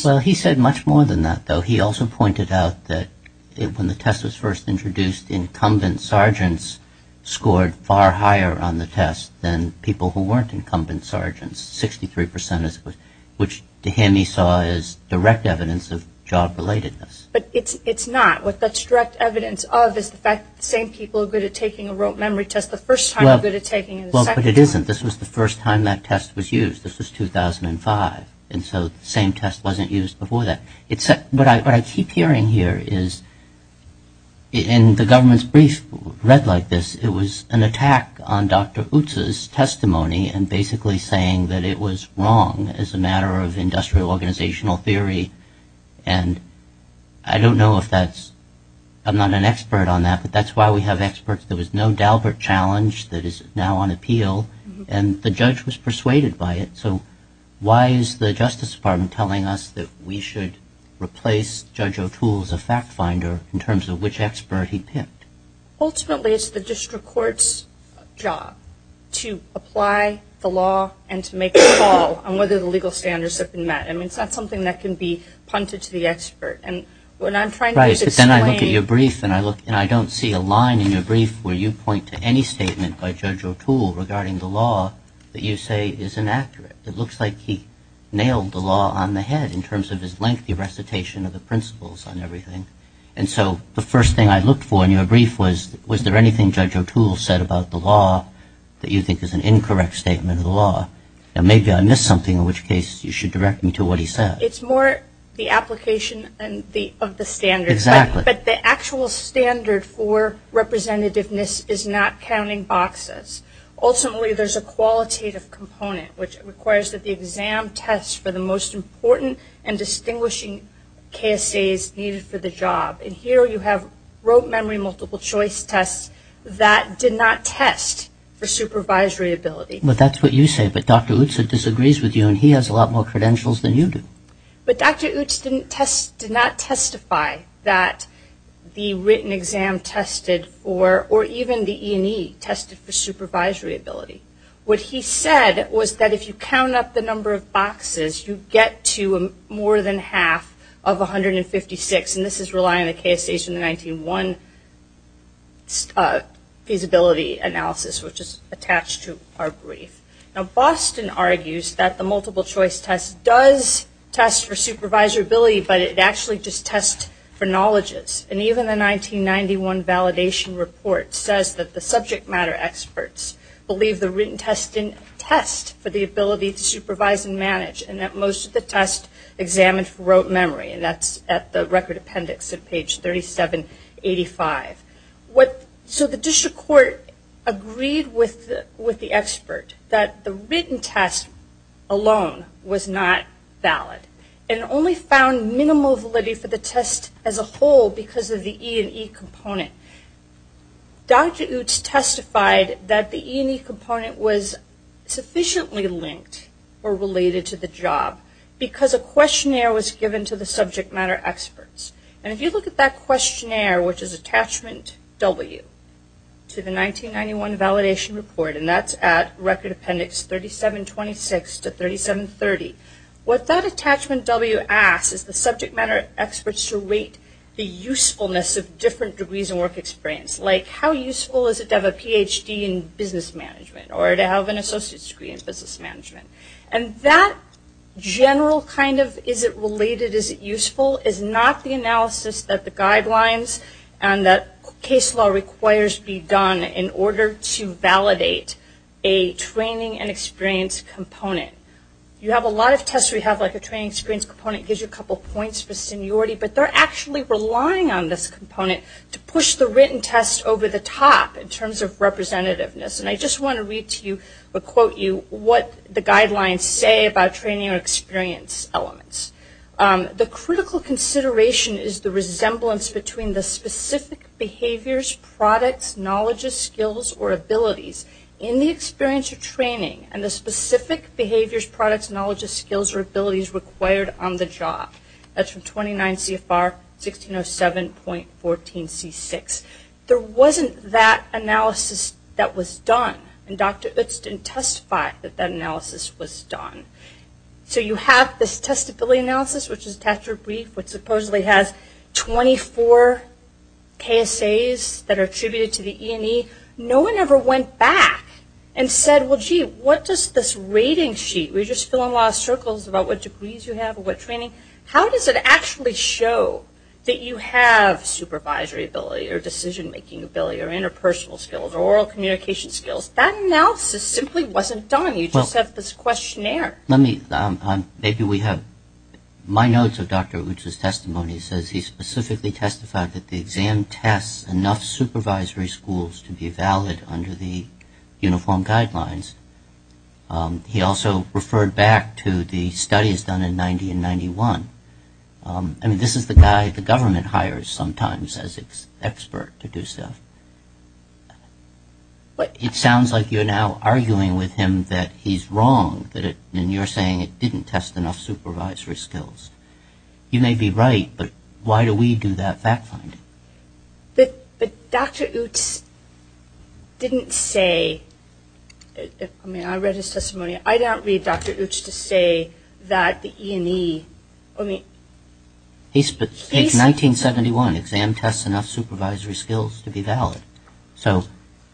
Well, he said much more than that, though. He also pointed out that when the test was first introduced, incumbent sergeants scored far higher on the test than people who weren't incumbent sergeants, 63%, which to him he saw as direct evidence of job-relatedness. But it's not. What that's direct evidence of is the fact that the same people are good at taking a rote memory test the first time are good at taking it the second time. Well, but it isn't. This was the first time that test was used. This was 2005, and so the same test wasn't used before that. What I keep hearing here is in the government's brief read like this, it was an attack on Dr. Utsa's testimony and basically saying that it was wrong as a matter of industrial organizational theory. And I don't know if that's – I'm not an expert on that, but that's why we have experts. There was no Dalbert challenge that is now on appeal, and the judge was persuaded by it. So why is the Justice Department telling us that we should replace Judge O'Toole as a fact-finder in terms of which expert he picked? Ultimately, it's the district court's job to apply the law and to make a call on whether the legal standards have been met. I mean, it's not something that can be punted to the expert. Right, but then I look at your brief and I don't see a line in your brief where you point to any statement by Judge O'Toole regarding the law that you say is inaccurate. It looks like he nailed the law on the head in terms of his lengthy recitation of the principles and everything. And so the first thing I looked for in your brief was, was there anything Judge O'Toole said about the law that you think is an incorrect statement of the law? And maybe I missed something, in which case you should direct me to what he said. It's more the application of the standards. But the actual standard for representativeness is not counting boxes. Ultimately, there's a qualitative component, which requires that the exam tests for the most important and distinguishing KSAs needed for the job. And here you have rote memory multiple choice tests that did not test for supervisory ability. But that's what you say, but Dr. Utsa disagrees with you and he has a lot more credentials than you do. But Dr. Utsa did not testify that the written exam tested or even the E&E tested for supervisory ability. What he said was that if you count up the number of boxes, you get to more than half of 156, and this is relying on the KSAs in the 1901 feasibility analysis, which is attached to our brief. Now Boston argues that the multiple choice test does test for supervisory ability, but it actually just tests for knowledges. And even the 1991 validation report says that the subject matter experts believe the written test didn't test for the ability to supervise and manage, and that most of the tests examined for rote memory. And that's at the record appendix at page 3785. So the district court agreed with the expert that the written test alone was not valid and only found minimal validity for the test as a whole because of the E&E component. Dr. Utsa testified that the E&E component was sufficiently linked or related to the job because a questionnaire was given to the subject matter experts. And if you look at that questionnaire, which is attachment W to the 1991 validation report, and that's at record appendix 3726 to 3730, what that attachment W asks is the subject matter experts to rate the usefulness of different degrees and work experience. Like how useful is it to have a Ph.D. in business management or to have an associate's degree in business management? And that general kind of is it related, is it useful, is not the analysis that the guidelines and that case law requires be done in order to validate a training and experience component. You have a lot of tests where you have like a training experience component. It gives you a couple points for seniority, but they're actually relying on this component to push the written test over the top in terms of representativeness. And I just want to read to you or quote you what the guidelines say about training or experience elements. The critical consideration is the resemblance between the specific behaviors, products, knowledges, skills, or abilities in the experience of training and the specific behaviors, products, knowledges, skills, or abilities required on the job. That's from 29 CFR 1607.14C6. There wasn't that analysis that was done. And Dr. Utz didn't testify that that analysis was done. So you have this testability analysis, which is test or brief, which supposedly has 24 KSAs that are attributed to the E&E. No one ever went back and said, well, gee, what does this rating sheet, we're just still in lost circles about what degrees you have or what training. How does it actually show that you have supervisory ability or decision-making ability or interpersonal skills or oral communication skills? That analysis simply wasn't done. You just have this questionnaire. Let me, maybe we have, my notes of Dr. Utz's testimony says he specifically testified that the exam tests enough supervisory schools to be valid under the uniform guidelines. He also referred back to the studies done in 1991. I mean, this is the guy the government hires sometimes as its expert to do stuff. It sounds like you're now arguing with him that he's wrong, and you're saying it didn't test enough supervisory skills. You may be right, but why do we do that back finding? But Dr. Utz didn't say, I mean, I read his testimony. I don't read Dr. Utz to say that the E&E, I mean. It's 1971, exam tests enough supervisory skills to be valid. So,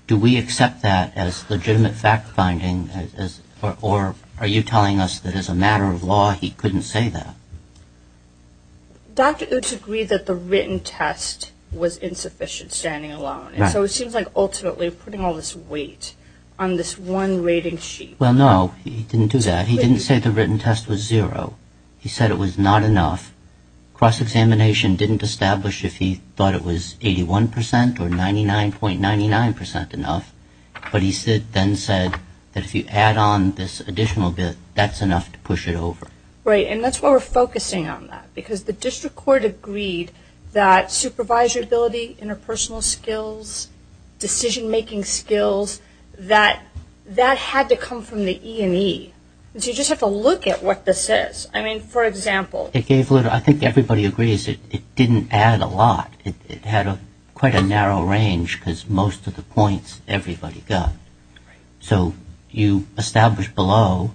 do we accept that as legitimate back finding, or are you telling us that as a matter of law he couldn't say that? Dr. Utz agreed that the written test was insufficient standing alone, and so it seems like ultimately putting all this weight on this one rating sheet. Well, no, he didn't do that. He didn't say the written test was zero. He said it was not enough. Cross-examination didn't establish if he thought it was 81% or 99.99% enough, but he then said that if you add on this additional bit, that's enough to push it over. Right, and that's why we're focusing on that, because the district court agreed that supervisor ability, interpersonal skills, decision-making skills, that had to come from the E&E. You just have to look at what this is. I mean, for example. I think everybody agrees it didn't add a lot. It had quite a narrow range because most of the points everybody got. So you established below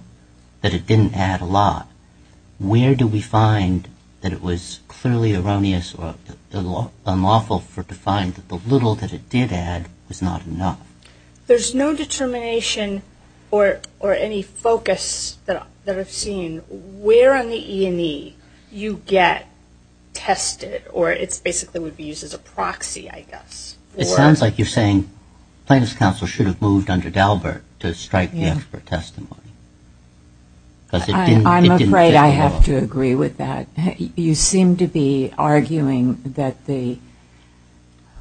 that it didn't add a lot. Where do we find that it was clearly erroneous or unlawful for it to find that the little that it did add was not enough? There's no determination or any focus that I've seen where on the E&E you get tested, or it basically would be used as a proxy, I guess. It sounds like you're saying plaintiff's counsel should have moved under Galbert to strike the expert testimony. I'm afraid I have to agree with that. You seem to be arguing that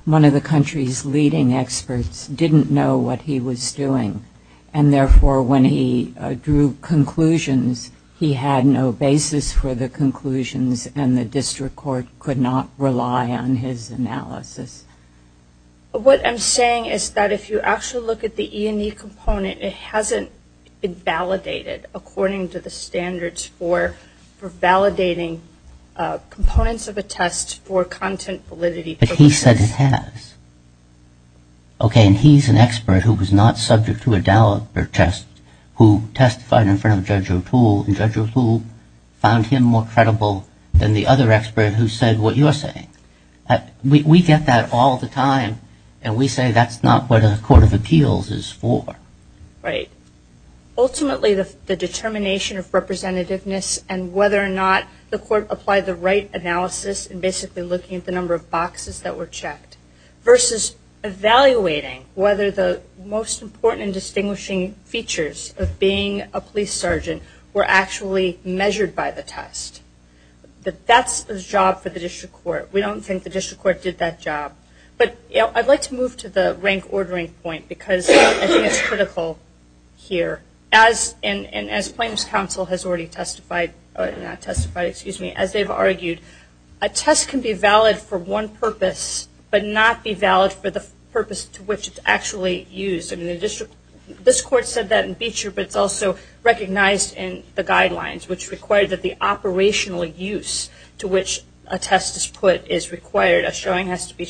one of the country's leading experts didn't know what he was doing, and therefore when he drew conclusions, he had no basis for the conclusions, and the district court could not rely on his analysis. What I'm saying is that if you actually look at the E&E component, it hasn't been validated according to the standards for validating components of a test for content validity. But he said it has. Okay, and he's an expert who was not subject to a Galbert test, who testified in front of Judge Raffullo, and Judge Raffullo found him more credible than the other expert who said what you're saying. We get that all the time, and we say that's not what a court of appeals is for. Right. Ultimately, the determination of representativeness and whether or not the court applied the right analysis, and basically looking at the number of boxes that were checked, versus evaluating whether the most important and distinguishing features of being a police sergeant were actually measured by the test. That's the job for the district court. We don't think the district court did that job. But I'd like to move to the rank ordering point, because I think it's critical here. As Plaintiff's counsel has already testified, or not testified, excuse me, as they've argued, a test can be valid for one purpose, but not be valid for the purpose to which it's actually used. This court said that in Beecher, but it's also recognized in the guidelines, which require that the operational use to which a test is put is required. A showing has to be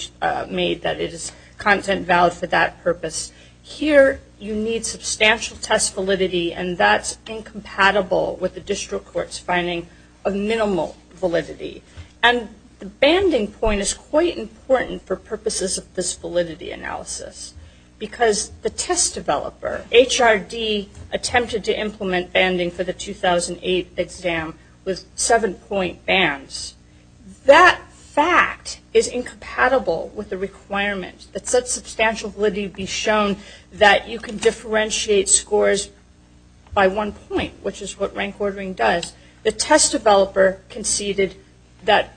made that it is content valid for that purpose. Here, you need substantial test validity, and that's incompatible with the district court's finding of minimal validity. And the banding point is quite important for purposes of this validity analysis, because the test developer, HRD, attempted to implement banding for the 2008 exam with seven-point bands. That fact is incompatible with the requirement. But let substantial validity be shown that you can differentiate scores by one point, which is what rank ordering does. The test developer conceded that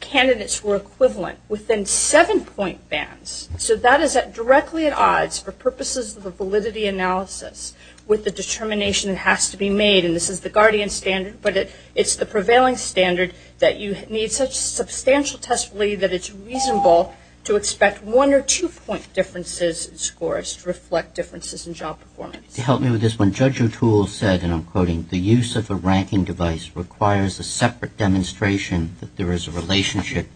candidates were equivalent within seven-point bands. So that is directly at odds for purposes of the validity analysis, with the determination that has to be made. And this is the Guardian standard, but it's the prevailing standard that you need A substantial test validity that it's reasonable to expect one- or two-point differences in scores to reflect differences in job performance. To help me with this one, Judge O'Toole said, and I'm quoting, the use of a ranking device requires a separate demonstration that there is a relationship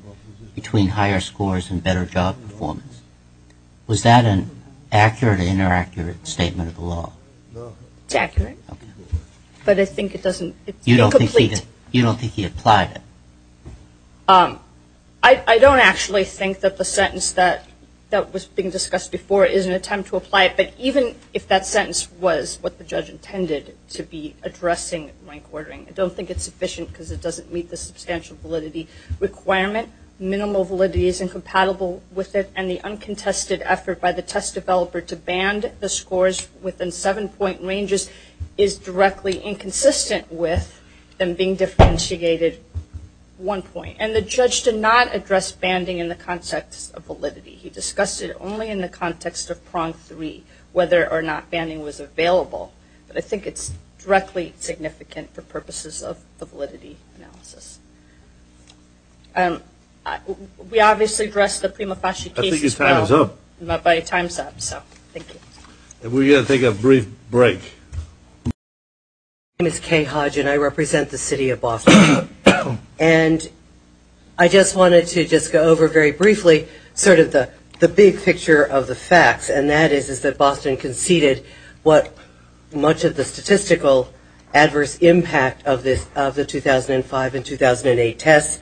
between higher scores and better job performance. Was that an accurate or inaccurate statement of the law? It's accurate, but I think it doesn't... You don't think he applied it? I don't actually think that the sentence that was being discussed before is an attempt to apply it. But even if that sentence was what the judge intended to be addressing rank ordering, I don't think it's sufficient because it doesn't meet the substantial validity requirement. Minimal validity is incompatible with it, and the uncontested effort by the test developer to band the scores within seven-point ranges is directly inconsistent with them being differentiated one point. And the judge did not address banding in the context of validity. He discussed it only in the context of prong three, whether or not banding was available. But I think it's directly significant for purposes of the validity analysis. We obviously addressed the prima facie case as well. I'm not by a time stamp, so thank you. We're going to take a brief break. My name is Kay Hodge, and I represent the city of Boston. And I just wanted to just go over very briefly sort of the big picture of the facts, and that is that Boston conceded much of the statistical adverse impact of the 2005 and 2008 tests,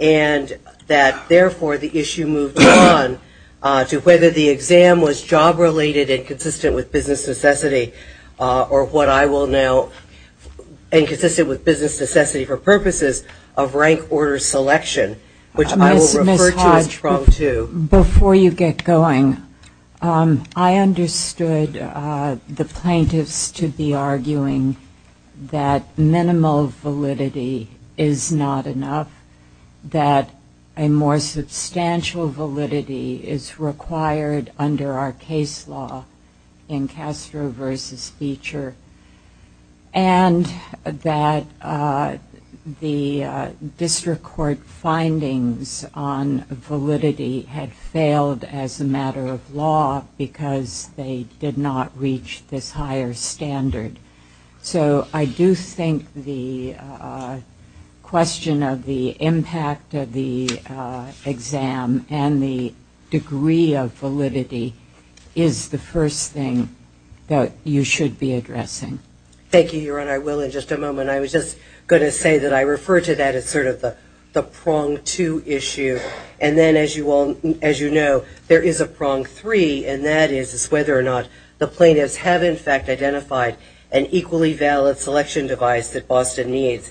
and that, therefore, the issue moves on to whether the exam was job-related and consistent with business necessity for purposes of rank order selection, which I will refer to in prong two. Before you get going, I understood the plaintiffs to be arguing that minimal validity is not enough, that a more substantial validity is required under our case law in Castro versus Beecher, and that the district court findings on validity had failed as a matter of law because they did not reach this higher standard. So I do think the question of the impact of the exam and the degree of validity is the first thing that you should be addressing. Thank you, Your Honor. I will in just a moment. I was just going to say that I refer to that as sort of the prong two issue, and then, as you know, there is a prong three, and that is whether or not the plaintiffs have, in fact, identified an equally valid selection device that meets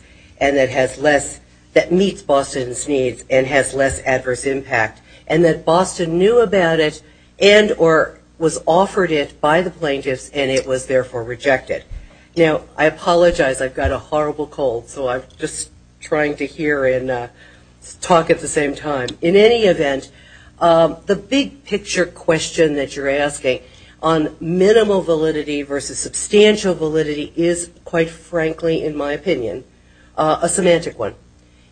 Boston's needs and has less adverse impact, and that Boston knew about it and or was offered it by the plaintiffs, and it was, therefore, rejected. Now, I apologize. I've got a horrible cold, so I'm just trying to hear and talk at the same time. In any event, the big picture question that you're asking on minimal validity versus substantial validity is, quite frankly, in my opinion, a semantic one,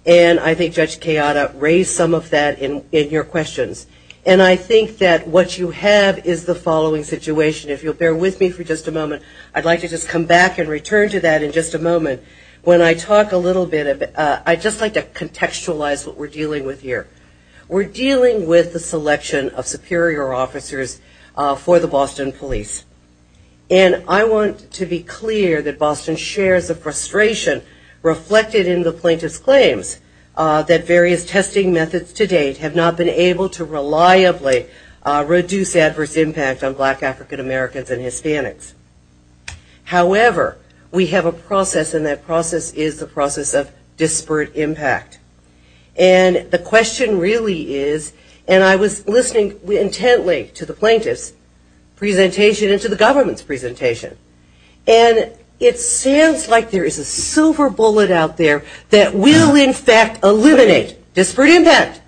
and I think Judge Chiara raised some of that in your questions, and I think that what you have is the following situation. If you'll bear with me for just a moment, I'd like to just come back and return to that in just a moment. When I talk a little bit, I'd just like to contextualize what we're dealing with here. We're dealing with the selection of superior officers for the Boston police, and I want to be clear that Boston shares the frustration reflected in the plaintiff's claims that various testing methods to date have not been able to reliably reduce adverse impact on black African-Americans and Hispanics. However, we have a process, and that process is the process of disparate impact, and the question really is, and I was listening intently to the plaintiff's presentation and to the government's presentation, and it sounds like there is a silver bullet out there that will, in fact, eliminate disparate impact.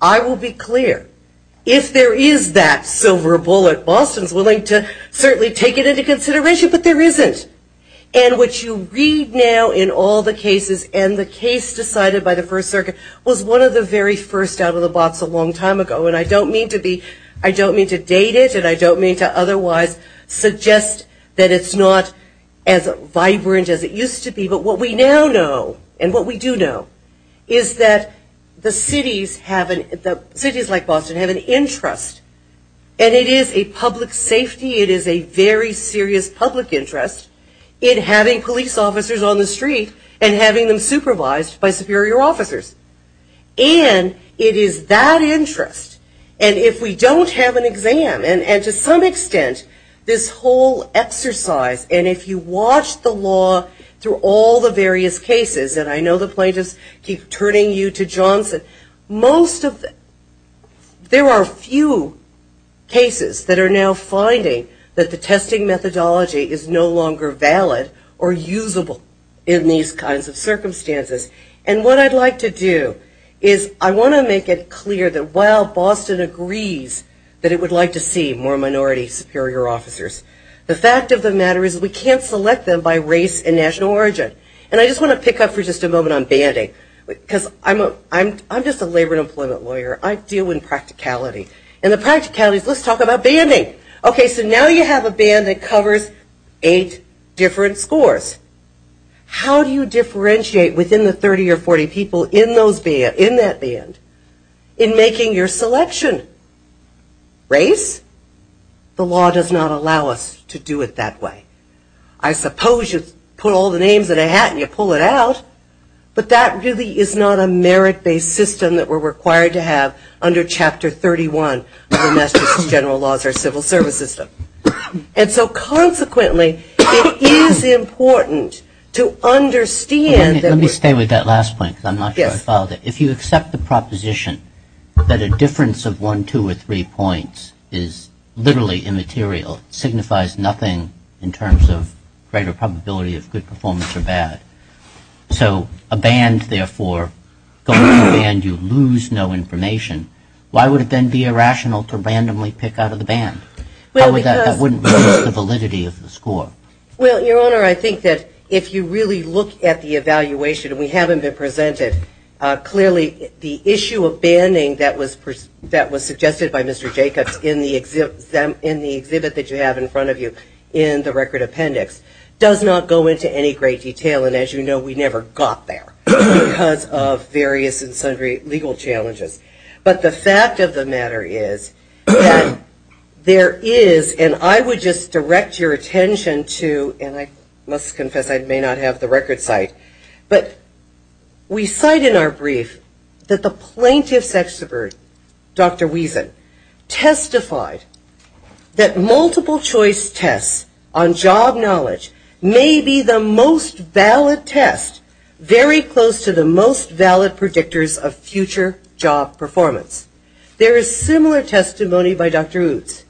I will be clear, if there is that silver bullet, Boston's willing to certainly take it into consideration, but there isn't. And what you read now in all the cases, and the case decided by the First Circuit, was one of the very first out of the box a long time ago, and I don't mean to date it, and I don't mean to otherwise suggest that it's not as vibrant as it used to be, but what we now know, and what we do know, is that cities like Boston have an interest, and it is a public safety, it is a very serious public interest, in having police officers on the street and having them supervised by superior officers. And it is that interest, and if we don't have an exam, and to some extent, this whole exercise, and if you watch the law through all the various cases, and I know the plaintiff keeps turning you to Johnson, most of the, there are few cases that are now finding that the testing methodology is no longer valid or usable in these kinds of circumstances. And what I'd like to do is I want to make it clear that while Boston agrees that it would like to see more minority superior officers, the fact of the matter is we can't select them by race and national origin. And I just want to pick up for just a moment on banding, because I'm just a labor and employment lawyer, I deal with practicality, and the practicality, let's talk about banding. Okay, so now you have a band that covers eight different scores. How do you differentiate within the 30 or 40 people in that band in making your selection? Race? The law does not allow us to do it that way. I suppose you put all the names in a hat and you pull it out, but that really is not a merit-based system that we're required to have under Chapter 31 of the National General Laws or Civil Service System. And so consequently, it is important to understand that... Let me stay with that last point, because I'm not sure I followed it. If you accept the proposition that a difference of one, two, or three points is literally immaterial, signifies nothing in terms of greater probability of good performance or bad. So a band, therefore, goes to a band, you lose no information. Why would it then be irrational to randomly pick out of the band? That wouldn't be the validity of the score. Well, Your Honor, I think that if you really look at the evaluation, and we haven't been presented, clearly the issue of banding that was suggested by Mr. Jacobs in the exhibit that you have in front of you in the record appendix does not go into any great detail, and as you know, we never got there because of various and sundry legal challenges. But the fact of the matter is, there is, and I would just direct your attention to, and I must confess I may not have the record site, but we cite in our brief that the plaintiff's exhibit, Dr. Wiesen, testified that multiple choice tests on job knowledge may be the most valid test, very close to the most valid predictors of future job performance. There is similar testimony by Dr. Utz.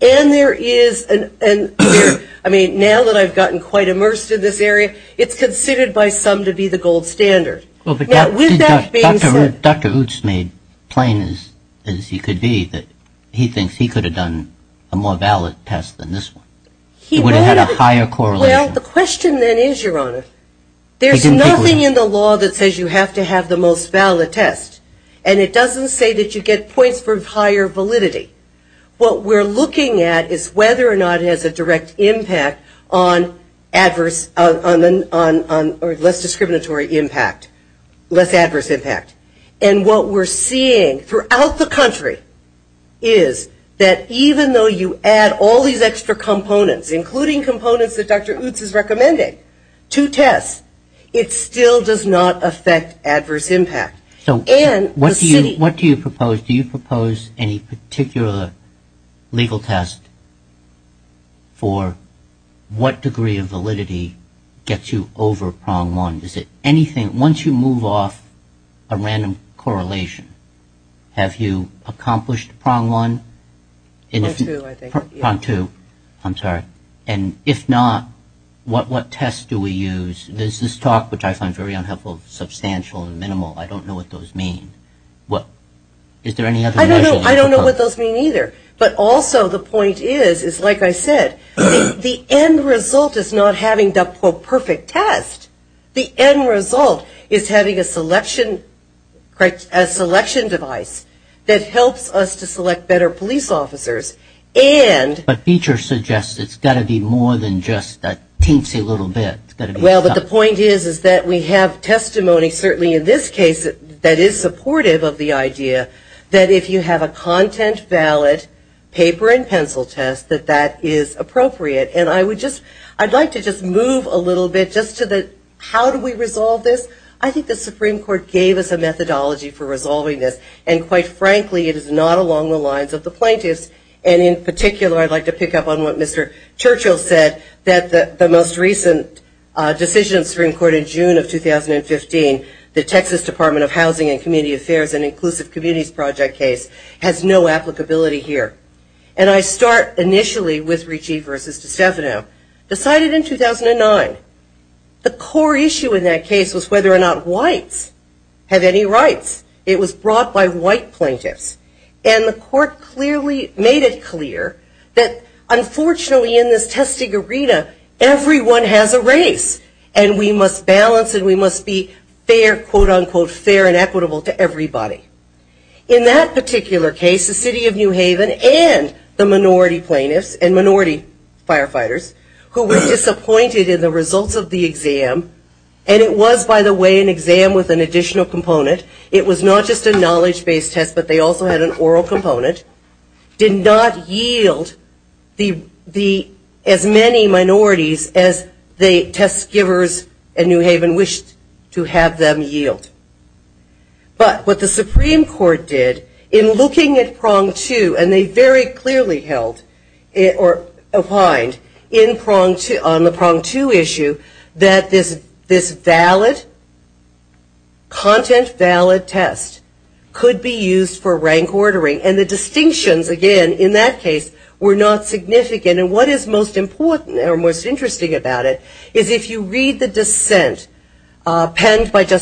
And there is, I mean, now that I've gotten quite immersed in this area, it's considered by some to be the gold standard. Dr. Utz made plain as he could be that he thinks he could have done a more valid test than this one. He would have had a higher correlation. Well, the question then is, Your Honor, there's nothing in the law that says you have to have the most valid test, and it doesn't say that you get points for higher validity. What we're looking at is whether or not it has a direct impact on less discriminatory impact, less adverse impact. And what we're seeing throughout the country is that even though you add all these extra components, including components that Dr. Utz is recommending to tests, it still does not affect adverse impact. What do you propose? Do you propose any particular legal test for what degree of validity gets you over prong one? Is it anything? Once you move off a random correlation, have you accomplished prong one? Prong two, I think. Prong two. I'm sorry. And if not, what test do we use? There's this talk, which I find very unhelpful, substantial and minimal. I don't know what those mean. Is there any other way? I don't know what those mean either. But also the point is, like I said, the end result is not having the perfect test. The end result is having a selection device that helps us to select better police officers. But features suggest it's got to be more than just a teensy little bit. Well, but the point is, is that we have testimony certainly in this case that is supportive of the idea that if you have a content ballot, paper and pencil test, that that is appropriate. And I would just, I'd like to just move a little bit just to the, how do we resolve this? I think the Supreme Court gave us a methodology for resolving this. And quite frankly, it is not along the lines of the plaintiffs. And in particular, I'd like to pick up on what Mr. Churchill said, that the most recent decision of the Supreme Court in June of 2015, the Texas Department of Housing and Community Affairs and Inclusive Communities Project case, has no applicability here. And I start initially with Ritchie v. Cessna. Decided in 2009. The core issue in that case was whether or not whites have any rights. It was brought by white plaintiffs. And the court clearly made it clear that unfortunately in this testing arena, everyone has a right. And we must balance and we must be fair, quote, unquote, fair and equitable to everybody. In that particular case, the city of New Haven and the minority plaintiffs and minority firefighters who were disappointed in the results of the exam, and it was, by the way, an exam with an additional component. It was not just a knowledge-based test, but they also had an oral component, did not yield as many minorities as the test givers in New Haven wished to have them yield. But what the Supreme Court did in looking at prong two, and they very clearly held or opined on the prong two issue that this valid, content valid test could be used for rank ordering. And the distinctions, again, in that case were not significant. And what is most important or most interesting about it is if you read the dissent penned by And it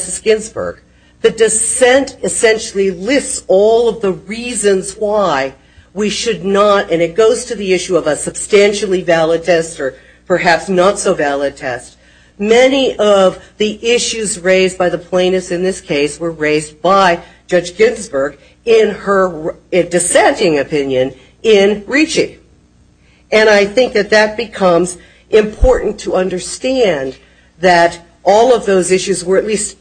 goes to the issue of a substantially valid test or perhaps not so valid test. Many of the issues raised by the plaintiffs in this case were raised by Judge Ginsburg in her dissenting opinion in Ricci. And I think that that becomes important to understand that all of those issues were at least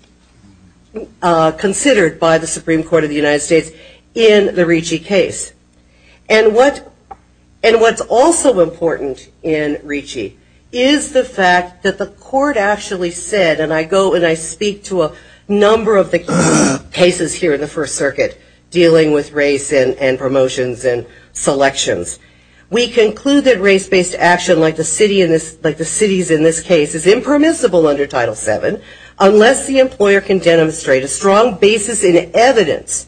And what's also important in Ricci is the fact that the court actually said, and I go and I speak to a number of the cases here in the First Circuit dealing with race and promotions and selections. We conclude that race-based action like the cities in this case is impermissible under Title VII unless the employer can demonstrate a strong basis in evidence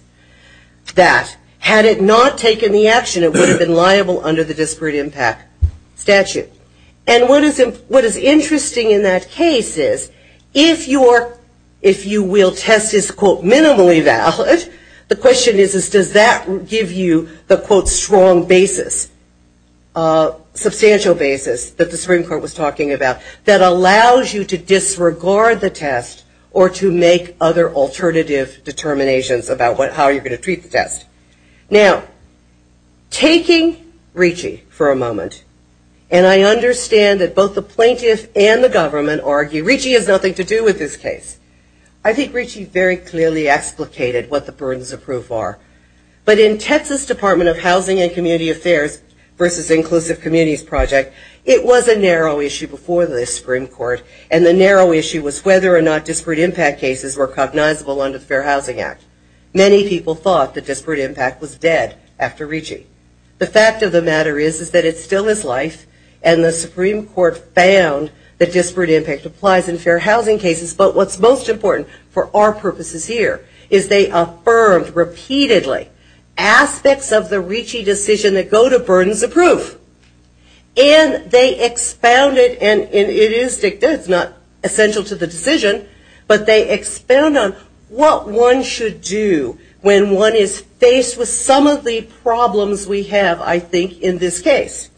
that, had it not taken the action, it would have been liable under the disparate impact statute. And what is interesting in that case is if you will test this, quote, minimally valid, the question is does that give you the, quote, strong basis, substantial basis that the Supreme Court was talking about that allows you to disregard the test or to make other alternative determinations about how you're going to treat the test. Now, taking Ricci for a moment, and I understand that both the plaintiffs and the government argue Ricci has nothing to do with this case. I think Ricci very clearly explicated what the burdens of proof are. But in Texas Department of Housing and Community Affairs versus Inclusive Communities Project, it was a narrow issue before the Supreme Court, and the narrow issue was whether or not disparate impact cases were cognizable under the Fair Housing Act. Many people thought the disparate impact was dead after Ricci. The fact of the matter is that it still is life, and the Supreme Court found that disparate impact applies in fair housing cases. But what's most important for our purposes here is they affirmed repeatedly aspects of the Ricci decision that go to burdens of proof. And they expounded, and it is not essential to the decision, but they expound on what one should do when one is faced with some of the problems we have, I think, in this case.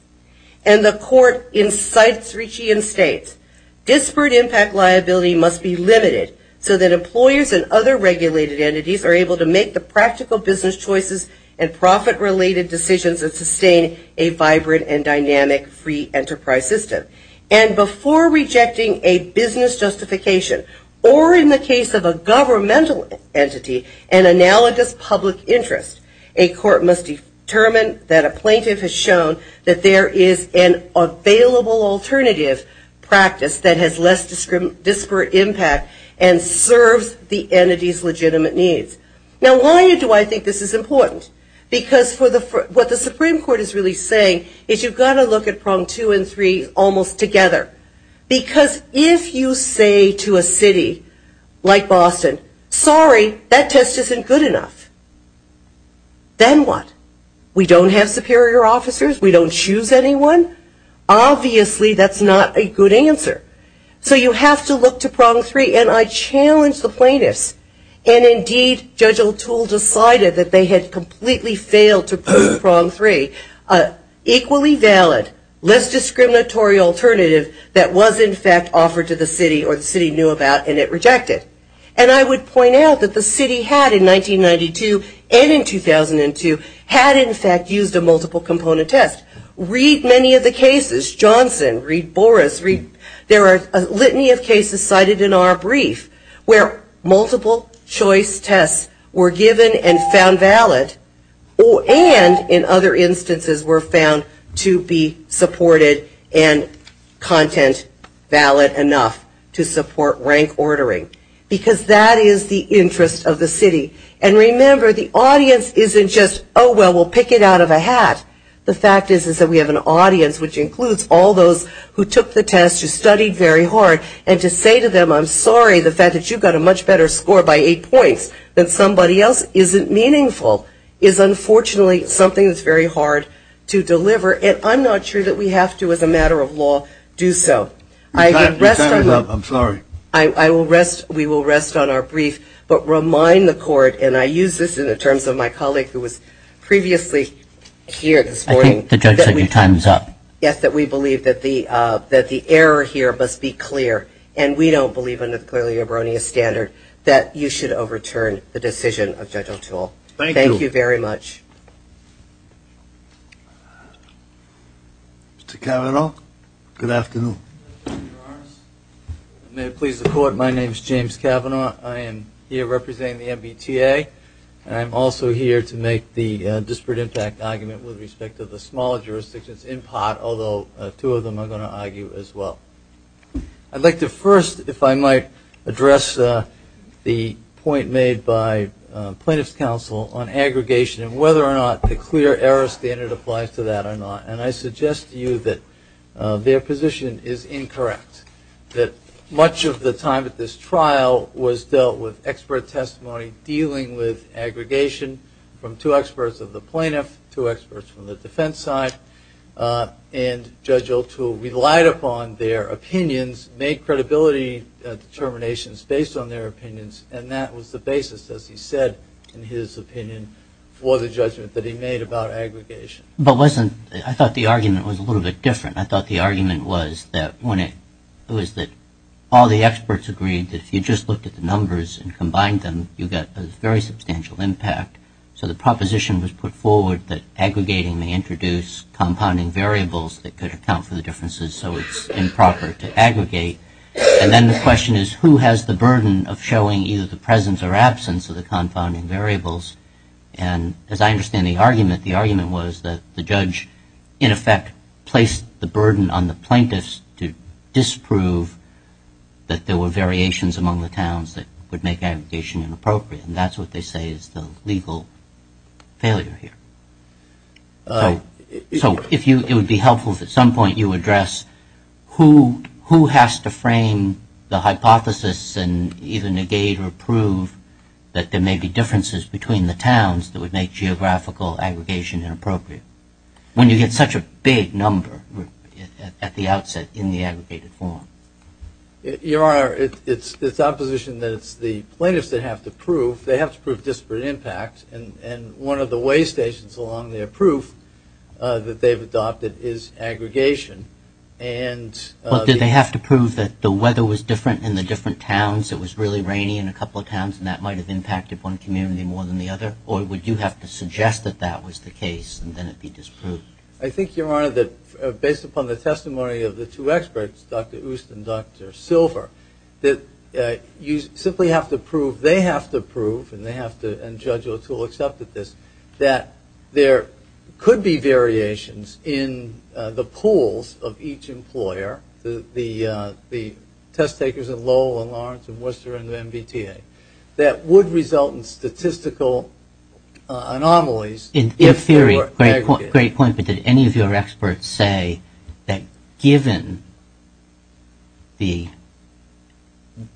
And the court incites Ricci and states, disparate impact liability must be limited so that employers and other regulated entities are able to make the practical business choices and profit-related decisions and sustain a vibrant and dynamic free enterprise system. And before rejecting a business justification, or in the case of a governmental entity, an analogous public interest, a court must determine that a plaintiff has shown that there is an available alternative practice that has less disparate impact and serves the entity's legitimate needs. Now, why do I think this is important? Because what the Supreme Court is really saying is you've got to look at prong two and three almost together. Because if you say to a city like Boston, sorry, that test isn't good enough, then what? We don't have superior officers? We don't choose anyone? Obviously, that's not a good answer. So you have to look to prong three. And I challenge the plaintiffs. And, indeed, Judge O'Toole decided that they had completely failed to prove prong three, an equally valid, less discriminatory alternative that was, in fact, offered to the city or the city knew about, and it rejected. And I would point out that the city had, in 1992 and in 2002, had, in fact, used a multiple-component test. Read many of the cases. Johnson. Read Boris. There are a litany of cases cited in our brief where multiple-choice tests were given and found valid and, in other instances, were found to be supported and content valid enough to support rank ordering. Because that is the interest of the city. And, remember, the audience isn't just, oh, well, we'll pick it out of a hat. The fact is that we have an audience, which includes all those who took the test, who studied very hard, and to say to them, I'm sorry, the fact that you got a much better score by eight points than somebody else isn't meaningful, is, unfortunately, something that's very hard to deliver. And I'm not sure that we have to, as a matter of law, do so. I will rest. We will rest on our brief. But remind the court, and I use this in the terms of my colleague who was previously here this morning. I think the judge said your time is up. Yes, that we believe that the error here must be clear, and we don't believe in the Equality Eroneous Standard that you should overturn the decision of Judge O'Toole. Thank you. Thank you very much. Mr. Kavanaugh. Good afternoon. May it please the Court. My name is James Kavanaugh. I am here representing the MBTA, and I'm also here to make the disparate impact argument with respect to the smaller jurisdictions in part, although two of them I'm going to argue as well. I'd like to first, if I might, address the point made by Plaintiff's Counsel on aggregation and whether or not the clear error standard applies to that or not. And I suggest to you that their position is incorrect, that much of the time at this trial was dealt with expert testimony dealing with aggregation from two experts of the plaintiff, two experts from the defense side, and Judge O'Toole relied upon their opinions, made credibility determinations based on their opinions, and that was the basis, as he said in his opinion, for the judgment that he made about aggregation. But listen, I thought the argument was a little bit different. I thought the argument was that all the experts agreed that if you just looked at the numbers and combined them, you got a very substantial impact. So the proposition was put forward that aggregating may introduce compounding variables that could account for the differences, so it's improper to aggregate. And then the question is, who has the burden of showing either the presence or absence of the compounding variables? And as I understand the argument, the argument was that the judge in effect placed the burden on the plaintiffs to disprove that there were variations among the towns that would make aggregation inappropriate, and that's what they say is the legal failure here. So it would be helpful if at some point you address who has to frame the hypothesis and even negate or prove that there may be differences between the towns that would make geographical aggregation inappropriate, when you get such a big number at the outset in the aggregated form. Your Honor, it's the opposition that it's the plaintiffs that have to prove. They have to prove disparate impacts, and one of the waystations along their proof that they've adopted is aggregation. But do they have to prove that the weather was different in the different towns, it was really rainy in a couple of towns, and that might have impacted one community more than the other? Or would you have to suggest that that was the case and then it be disproved? I think, Your Honor, that based upon the testimony of the two experts, Dr. Oost and Dr. Silver, that you simply have to prove, they have to prove, and Judge O'Toole accepted this, that there could be variations in the pools of each employer, the test takers at Lowell and Lawrence and Worcester and the MBTA, that would result in statistical anomalies. In theory, great point, but did any of your experts say that given the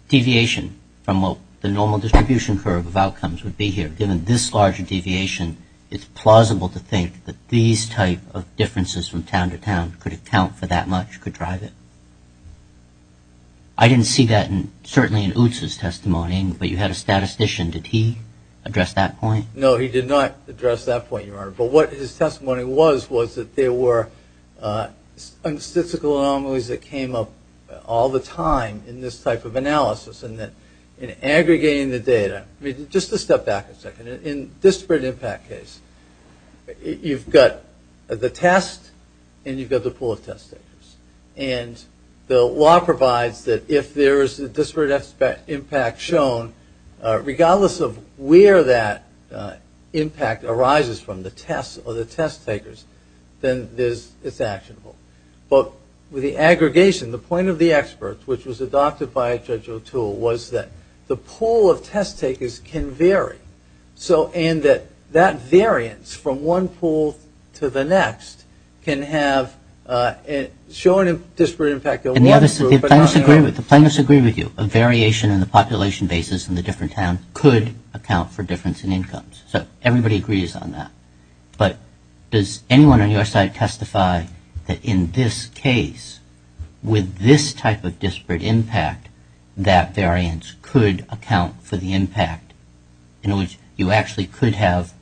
deviation from what the normal distribution curve of outcomes would be here, that given this large a deviation, it's plausible to think that these type of differences from town to town could account for that much, could drive it? I didn't see that certainly in Oost's testimony, but you had a statistician. Did he address that point? No, he did not address that point, Your Honor, but what his testimony was, was that there were statistical anomalies that came up all the time in this type of analysis, and that in aggregating the data, just to step back a second, in disparate impact case, you've got the test and you've got the pool of test takers, and the law provides that if there is a disparate impact shown, regardless of where that impact arises from, the test or the test takers, then it's actionable. But with the aggregation, the point of the experts, which was adopted by Judge O'Toole, was that the pool of test takers can vary, and that that variance from one pool to the next can have shown disparate impact. The plaintiffs agree with you. A variation in the population basis in a different town could account for difference in incomes, so everybody agrees on that. But does anyone on your side testify that in this case, with this type of disparate impact, that variance could account for the impact? In other words, you actually could have,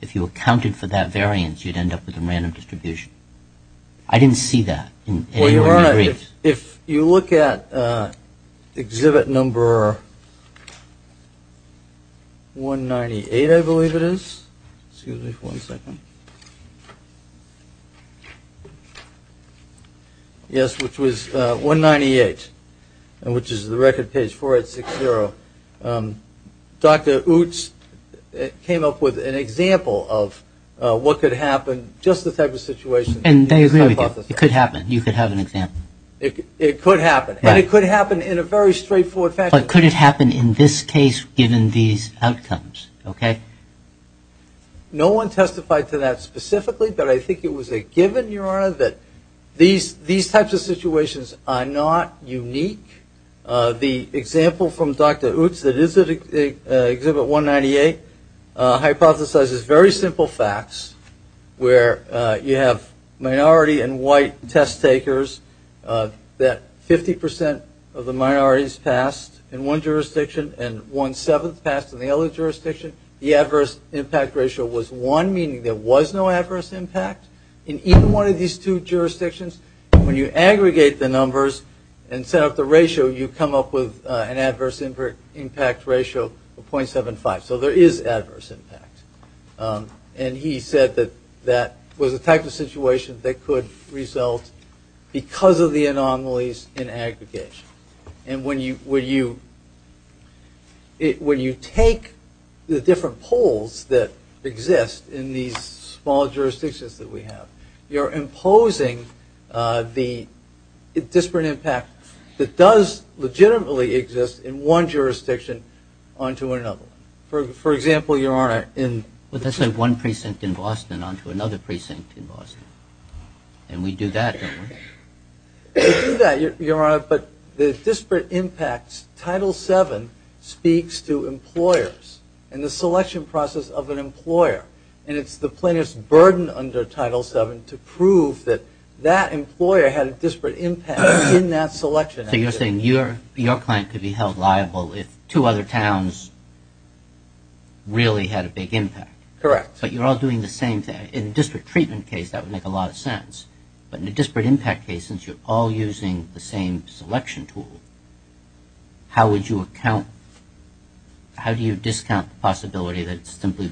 if you accounted for that variance, you'd end up with a random distribution. I didn't see that. You're right. If you look at exhibit number 198, I believe it is. Excuse me for one second. Yes, which was 198, which is the record page 4860. Dr. Utz came up with an example of what could happen, just the type of situation. And they agree with you. It could happen. You could have an example. It could happen. And it could happen in a very straightforward fashion. But could it happen in this case, given these outcomes, okay? No one testified to that specifically, but I think it was a given, Your Honor, that these types of situations are not unique. The example from Dr. Utz that is in exhibit 198 hypothesizes very simple facts, where you have minority and white test takers that 50% of the minorities passed in one jurisdiction and one-seventh passed in the other jurisdiction. The adverse impact ratio was one, meaning there was no adverse impact. In either one of these two jurisdictions, when you aggregate the numbers and set up the ratio, you come up with an adverse impact ratio of 0.75. So there is adverse impact. And he said that that was a type of situation that could result because of the anomalies in aggregation. And when you take the different poles that exist in these small jurisdictions that we have, you're imposing the disparate impact that does legitimately exist in one jurisdiction onto another. For example, Your Honor, in... But that's like one precinct in Boston onto another precinct in Boston. And we do that in this. We do that, Your Honor, but the disparate impacts, Title VII speaks to employers and the selection process of an employer. And it's the plaintiff's burden under Title VII to prove that that employer had a disparate impact in that selection. So you're saying your client could be held liable if two other towns really had a big impact. Correct. But you're all doing the same thing. In a disparate treatment case, that would make a lot of sense. But in a disparate impact case, since you're all using the same selection tool, how would you account... How do you discount the possibility that simply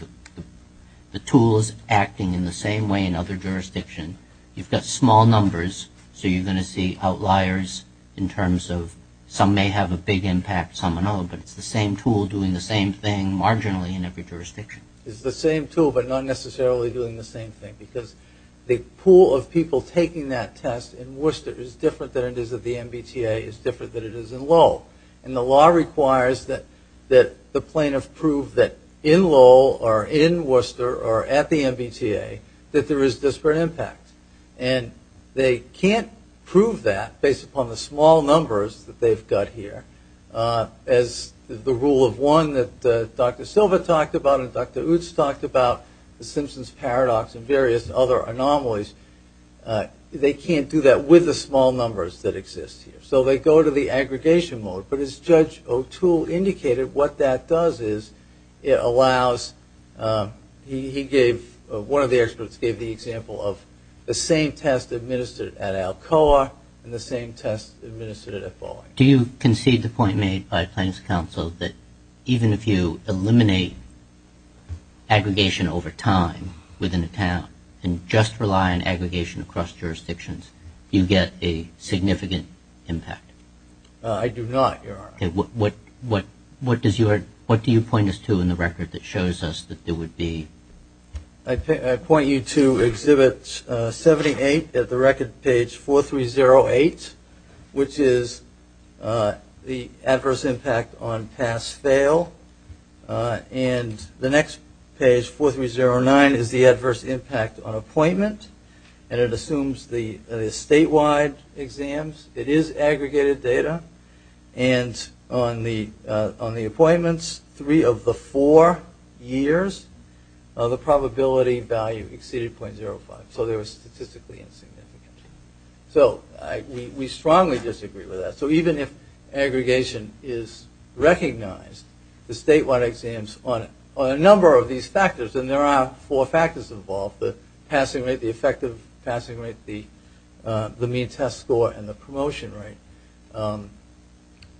the tool is acting in the same way in other jurisdictions? You've got small numbers, so you're going to see outliers in terms of some may have a big impact, some don't, but it's the same tool doing the same thing marginally in every jurisdiction. It's the same tool but not necessarily doing the same thing because the pool of people taking that test in Worcester is different than it is at the MBTA, is different than it is in Lowell. And the law requires that the plaintiff prove that in Lowell or in Worcester or at the MBTA that there is disparate impact. And they can't prove that based upon the small numbers that they've got here. As the rule of one that Dr. Silva talked about and Dr. Utz talked about, the Simpsons Paradox and various other anomalies, they can't do that with the small numbers that exist here. So they go to the aggregation mode. But as Judge O'Toole indicated, what that does is it allows... One of the experts gave the example of the same test administered at Alcoa and the same test administered at Fowler. Do you concede the point made by Plaintiff's counsel that even if you eliminate aggregation over time within a town and just rely on aggregation across jurisdictions, you get a significant impact? I do not, Your Honor. Okay, what do you point us to in the record that shows us that there would be... I point you to Exhibit 78 at the record page 4308, which is the adverse impact on pass-fail. And the next page, 4309, is the adverse impact on appointment. And it assumes the statewide exams. It is aggregated data. And on the appointments, three of the four years, the probability value exceeded .05. So there was statistically insignificant. So we strongly disagree with that. So even if aggregation is recognized, the statewide exams on a number of these factors, and there are four factors involved, the passing rate, the effective passing rate, the mean test score, and the promotion rate,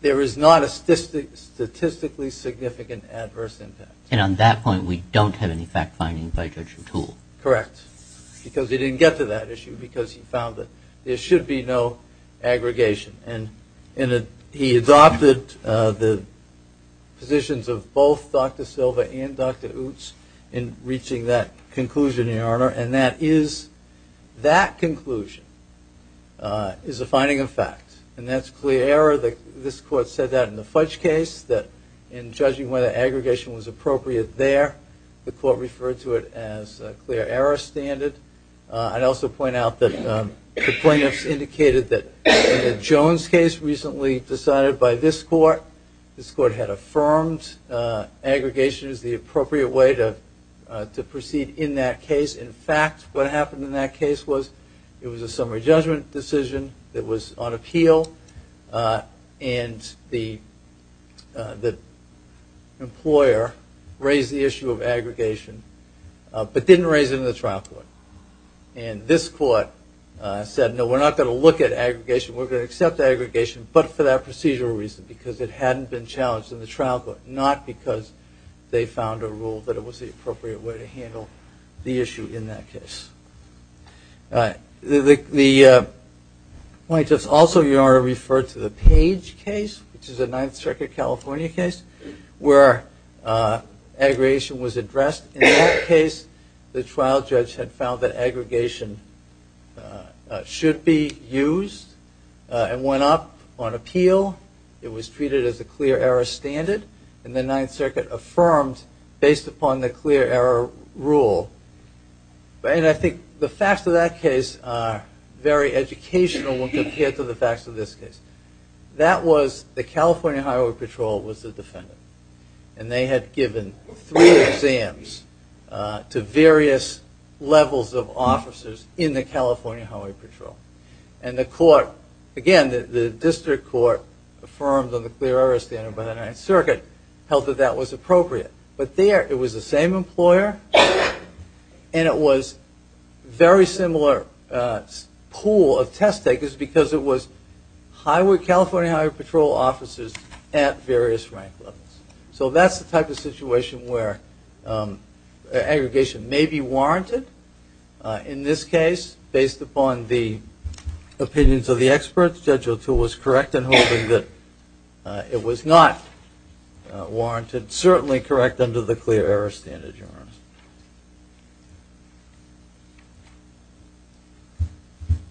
there is not a statistically significant adverse impact. And on that point, we don't have any fact-finding by direction tool. Correct. Because he didn't get to that issue because he found that there should be no aggregation. And he adopted the positions of both Dr. Silva and Dr. Utz in reaching that conclusion, Your Honor. And that is, that conclusion is a finding of fact. And that's clear error. This court said that in the Fudge case, that in judging whether aggregation was appropriate there, the court referred to it as a clear error standard. I'd also point out that the plaintiffs indicated that in the Jones case recently decided by this court, this court had affirmed aggregation as the appropriate way to proceed in that case. In fact, what happened in that case was it was a summary judgment decision that was on appeal, and the employer raised the issue of aggregation but didn't raise it in the trial court. And this court said, no, we're not going to look at aggregation, we're going to accept aggregation, but for that procedural reason, because it hadn't been challenged in the trial court, not because they found a rule that it was the appropriate way to handle the issue in that case. The plaintiffs also, Your Honor, referred to the Page case, which is a Ninth Circuit, California case, where aggregation was addressed in that case. The trial judge had found that aggregation should be used and went up on appeal. It was treated as a clear error standard, and the Ninth Circuit affirmed based upon the clear error rule. And I think the facts of that case are very educational when compared to the facts of this case. That was the California Highway Patrol was the defendant, and they had given three exams to various levels of officers in the California Highway Patrol. And the court, again, the district court affirmed on the clear error standard by the Ninth Circuit, held that that was appropriate. But there, it was the same employer, and it was very similar pool of test takers because it was California Highway Patrol officers at various rank levels. So that's the type of situation where aggregation may be warranted, but in this case, based upon the opinions of the experts, Judge O'Toole was correct in hoping that it was not warranted, certainly correct under the clear error standard, Your Honor.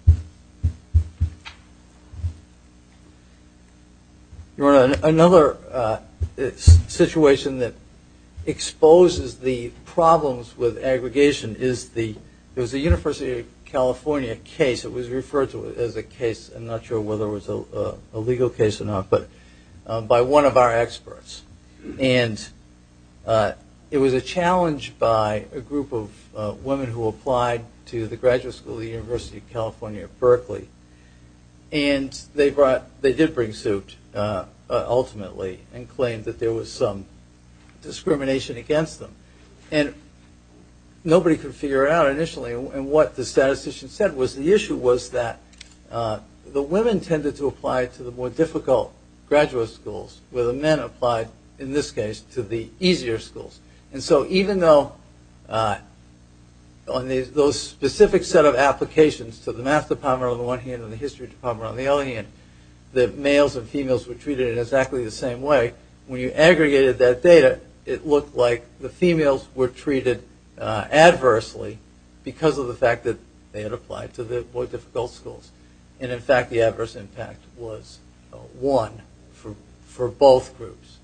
Thank you. Your Honor, another situation that exposes the problems with aggregation is the University of California case. It was referred to as a case, I'm not sure whether it was a legal case or not, but by one of our experts. And it was a challenge by a group of women who applied to the graduate school at the University of California at Berkeley. And they did bring suit, ultimately, and claimed that there was some discrimination against them. And nobody could figure out initially, and what the statistician said was the issue was that the women tended to apply to the more difficult graduate schools, where the men applied, in this case, to the easier schools. And so even though on those specific set of applications to the math department on the one hand and the history department on the other hand, the males and females were treated in exactly the same way, when you aggregated that data, it looked like the females were treated adversely because of the fact that they had applied to the more difficult schools. And in fact, the adverse impact was one for both groups.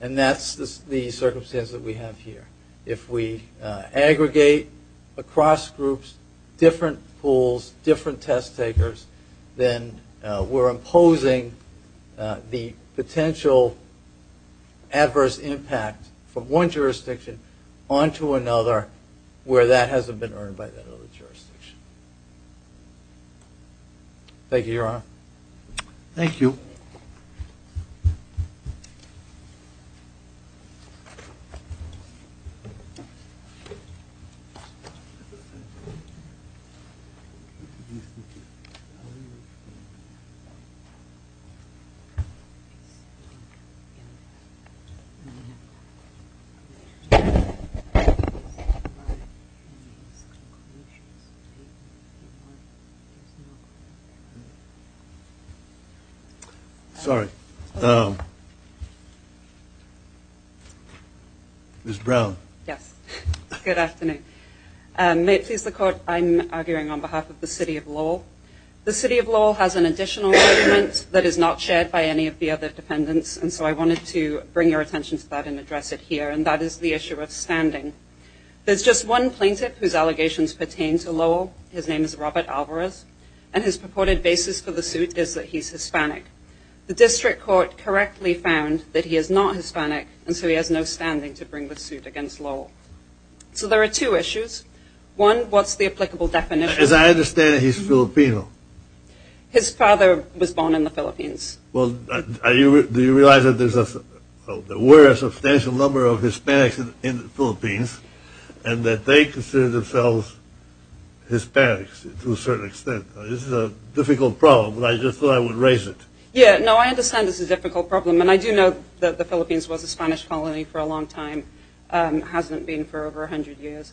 And that's the circumstance that we have here. If we aggregate across groups, different pools, different test takers, then we're imposing the potential adverse impact from one jurisdiction onto another where that hasn't been earned by that other jurisdiction. Thank you, Your Honor. Thank you. Sorry. Ms. Brown. Yes. Good afternoon. May it please the Court, I'm arguing on behalf of the City of Lowell. The City of Lowell has an additional judgment that is not shared by any of the other defendants, and so I wanted to bring your attention to that and address it here, and that is the issue of standing. There's just one plaintiff whose allegations pertain to Lowell, his name is Robert Alvarez, and his purported basis for the suit is that he's Hispanic. The district court correctly found that he is not Hispanic, and so he has no standing to bring the suit against Lowell. So there are two issues. One, what's the applicable definition? As I understand it, he's Filipino. His father was born in the Philippines. Well, do you realize that there were a substantial number of Hispanics in the Philippines, and that they considered themselves Hispanics to a certain extent? This is a difficult problem, but I just thought I would raise it. Yeah, no, I understand this is a difficult problem, and I do know that the Philippines was a Spanish colony for a long time, hasn't been for over 100 years.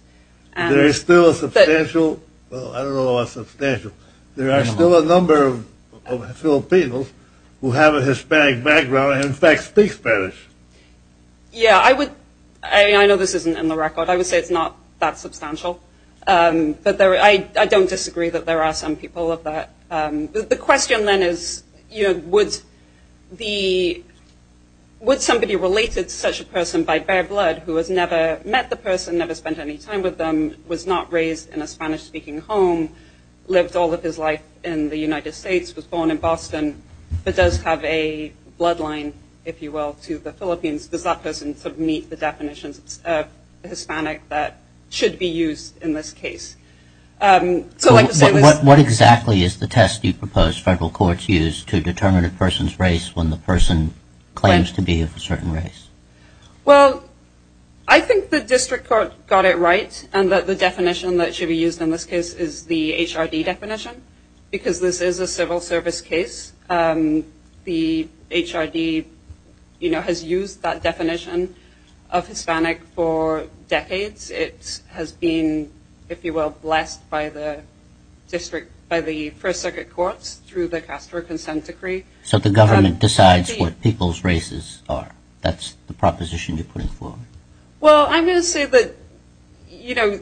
There is still a substantial, well, I don't know about substantial, but there are still a number of Filipinos who have a Hispanic background and, in fact, speak Spanish. Yeah, I know this isn't in the record. I would say it's not that substantial. But I don't disagree that there are some people of that. The question then is, you know, would somebody related to such a person by bare blood, who had never met the person, never spent any time with them, was not raised in a Spanish-speaking home, lived all of his life in the United States, was born in Boston, but does have a bloodline, if you will, to the Philippines, does that person meet the definition of Hispanic that should be used in this case? What exactly is the test you propose federal courts use to determine a person's race when the person claims to be of a certain race? Well, I think the district court got it right, and that the definition that should be used in this case is the HRD definition, because this is a civil service case. The HRD, you know, has used that definition of Hispanic for decades. It has been, if you will, blessed by the district, by the first circuit court through the Castro Consent Decree. So the government decides what people's races are. That's the proposition you're putting forward. Well, I'm going to say that, you know,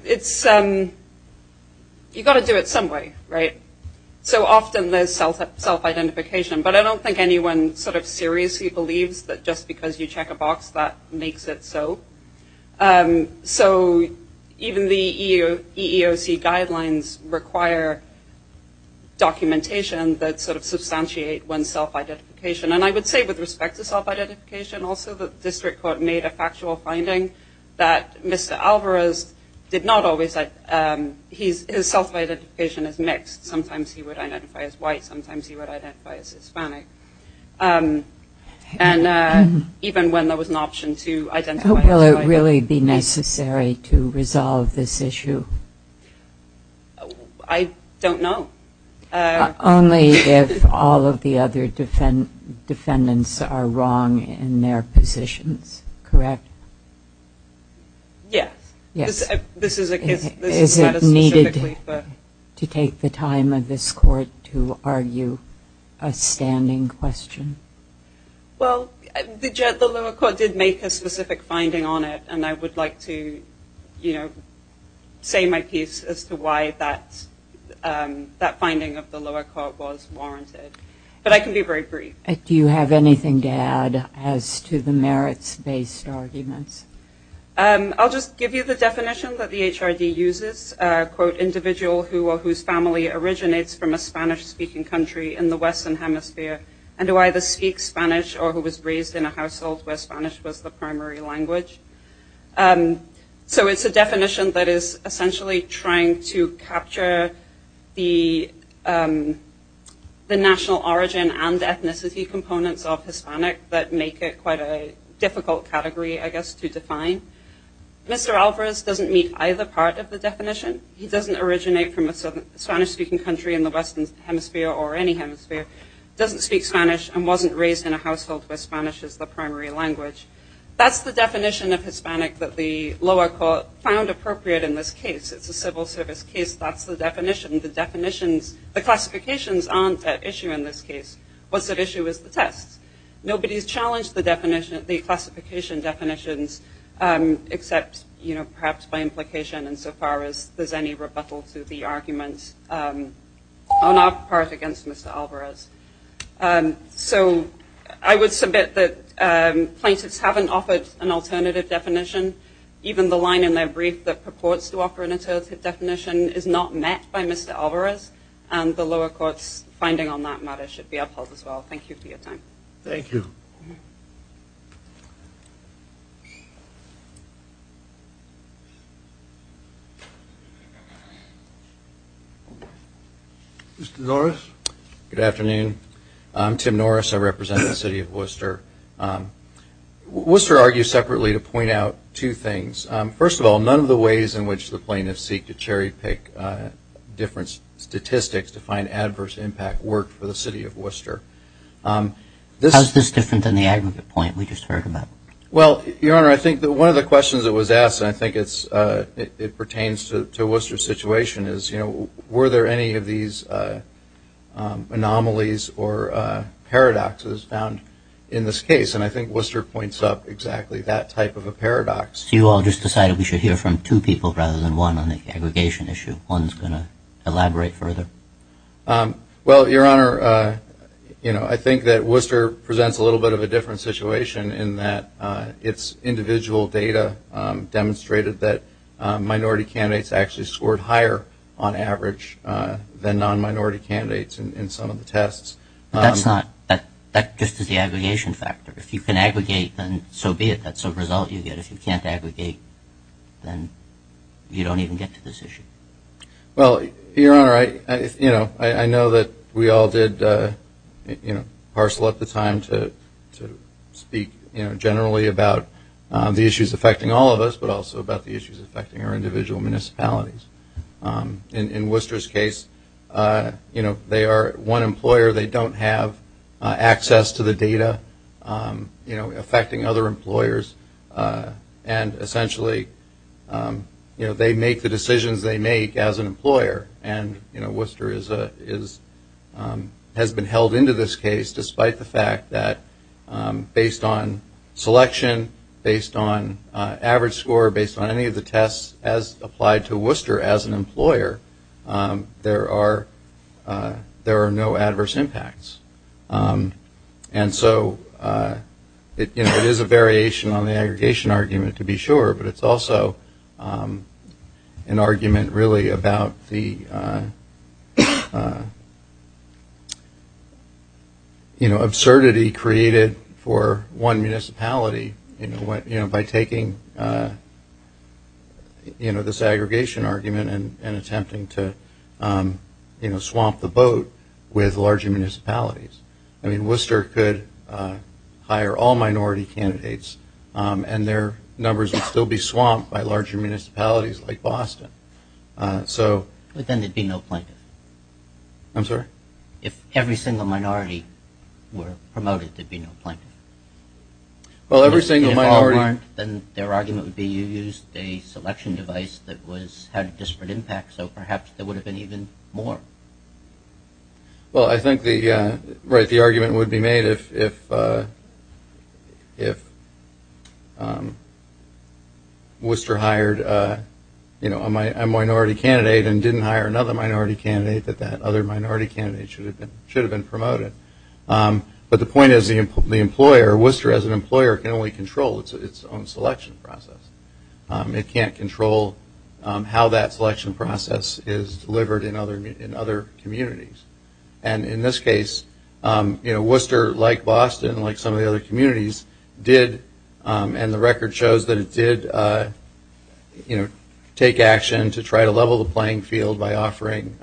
you've got to do it some way, right? So often there's self-identification, but I don't think anyone seriously believes that just because you check a box that makes it so. So even the EEOC guidelines require documentation that sort of substantiates one's self-identification. And I would say with respect to self-identification also, the district court made a factual finding that Mr. Alvarez did not always have, his self-identification is mixed. Sometimes he would identify as white. Sometimes he would identify as Hispanic. And even when there was an option to identify as white. How will it really be necessary to resolve this issue? I don't know. Only if all of the other defendants are wrong in their positions, correct? Yes. Is it needed to take the time of this court to argue a standing question? Well, the lower court did make a specific finding on it, and I would like to say my piece as to why that finding of the lower court was warranted. But I can be very brief. Do you have anything to add as to the merits-based argument? I'll just give you the definition that the HRD uses. Quote, individual whose family originates from a Spanish-speaking country in the Western Hemisphere and who either speaks Spanish or who was raised in a household where Spanish was the primary language. So it's a definition that is essentially trying to capture the national origin and ethnicity components of Hispanic that make it quite a difficult category, I guess, to define. Mr. Alvarez doesn't meet either part of the definition. He doesn't originate from a Spanish-speaking country in the Western Hemisphere or any hemisphere, doesn't speak Spanish, and wasn't raised in a household where Spanish is the primary language. That's the definition of Hispanic that the lower court found appropriate in this case. It's a civil service case. That's the definition. The classifications aren't that issue in this case. What's at issue is the text. Nobody has challenged the classification definitions except perhaps by implication insofar as there's any rebuttal to the argument on our part against Mr. Alvarez. So I would submit that plaintiffs haven't offered an alternative definition. Even the line in their brief that purports to offer an alternative definition is not met by Mr. Alvarez, and the lower court's finding on that matter should be upheld as well. Thank you for your time. Thank you. Mr. Norris. Good afternoon. I'm Tim Norris. I represent the city of Worcester. Worcester argues separately to point out two things. First of all, none of the ways in which the plaintiffs seek to cherry pick different statistics to find adverse impact work for the city of Worcester. How's this different than the aggregate point we just heard about? Well, Your Honor, I think that one of the questions that was asked, and I think it pertains to Worcester's situation, is, you know, were there any of these anomalies or paradoxes found in this case? And I think Worcester points up exactly that type of a paradox. So you all just decided we should hear from two people rather than one on the aggregation issue. One's going to elaborate further. Well, Your Honor, you know, I think that Worcester presents a little bit of a different situation in that its individual data demonstrated that minority candidates actually scored higher on average than non-minority candidates in some of the tests. That's just the aggregation factor. If you can aggregate, then so be it. That's a result you get. If you can't aggregate, then you don't even get to this issue. Well, Your Honor, you know, I know that we all did, you know, parcel at the time to speak, you know, generally about the issues affecting all of us, but also about the issues affecting our individual municipalities. In Worcester's case, you know, they are one employer. They don't have access to the data, you know, affecting other employers. And essentially, you know, they make the decisions they make as an employer. And, you know, Worcester has been held into this case despite the fact that based on selection, based on average score, based on any of the tests as applied to Worcester as an employer, there are no adverse impacts. And so, you know, there's a variation on the aggregation argument to be sure, but it's also an argument really about the, you know, absurdity created for one municipality, you know, by taking, you know, this aggregation argument and attempting to, you know, swamp the boat with larger municipalities. I mean, Worcester could hire all minority candidates and their numbers would still be swamped by larger municipalities like Boston. So... But then there'd be no plaintiff. I'm sorry? If every single minority were promoted, there'd be no plaintiff. Well, every single minority... So perhaps there would have been even more. Well, I think the argument would be made if Worcester hired, you know, a minority candidate and didn't hire another minority candidate, that that other minority candidate should have been promoted. But the point is the employer, Worcester as an employer, can only control its own selection process. It can't control how that selection process is delivered in other communities. And in this case, you know, Worcester, like Boston, like some of the other communities, did, and the record shows that it did, you know, take action to try to level the playing field by offering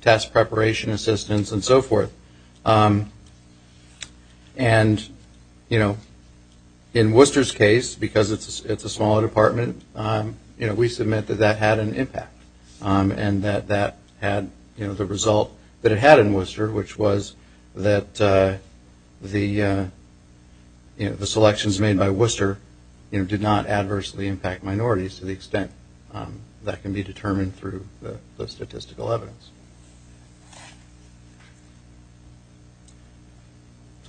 task preparation assistance and so forth. And, you know, in Worcester's case, because it's a smaller department, you know, we submit that that had an impact and that that had, you know, the result that it had in Worcester, which was that the, you know, the selections made by Worcester, you know, did not adversely impact minorities to the extent that can be determined through the statistical evidence.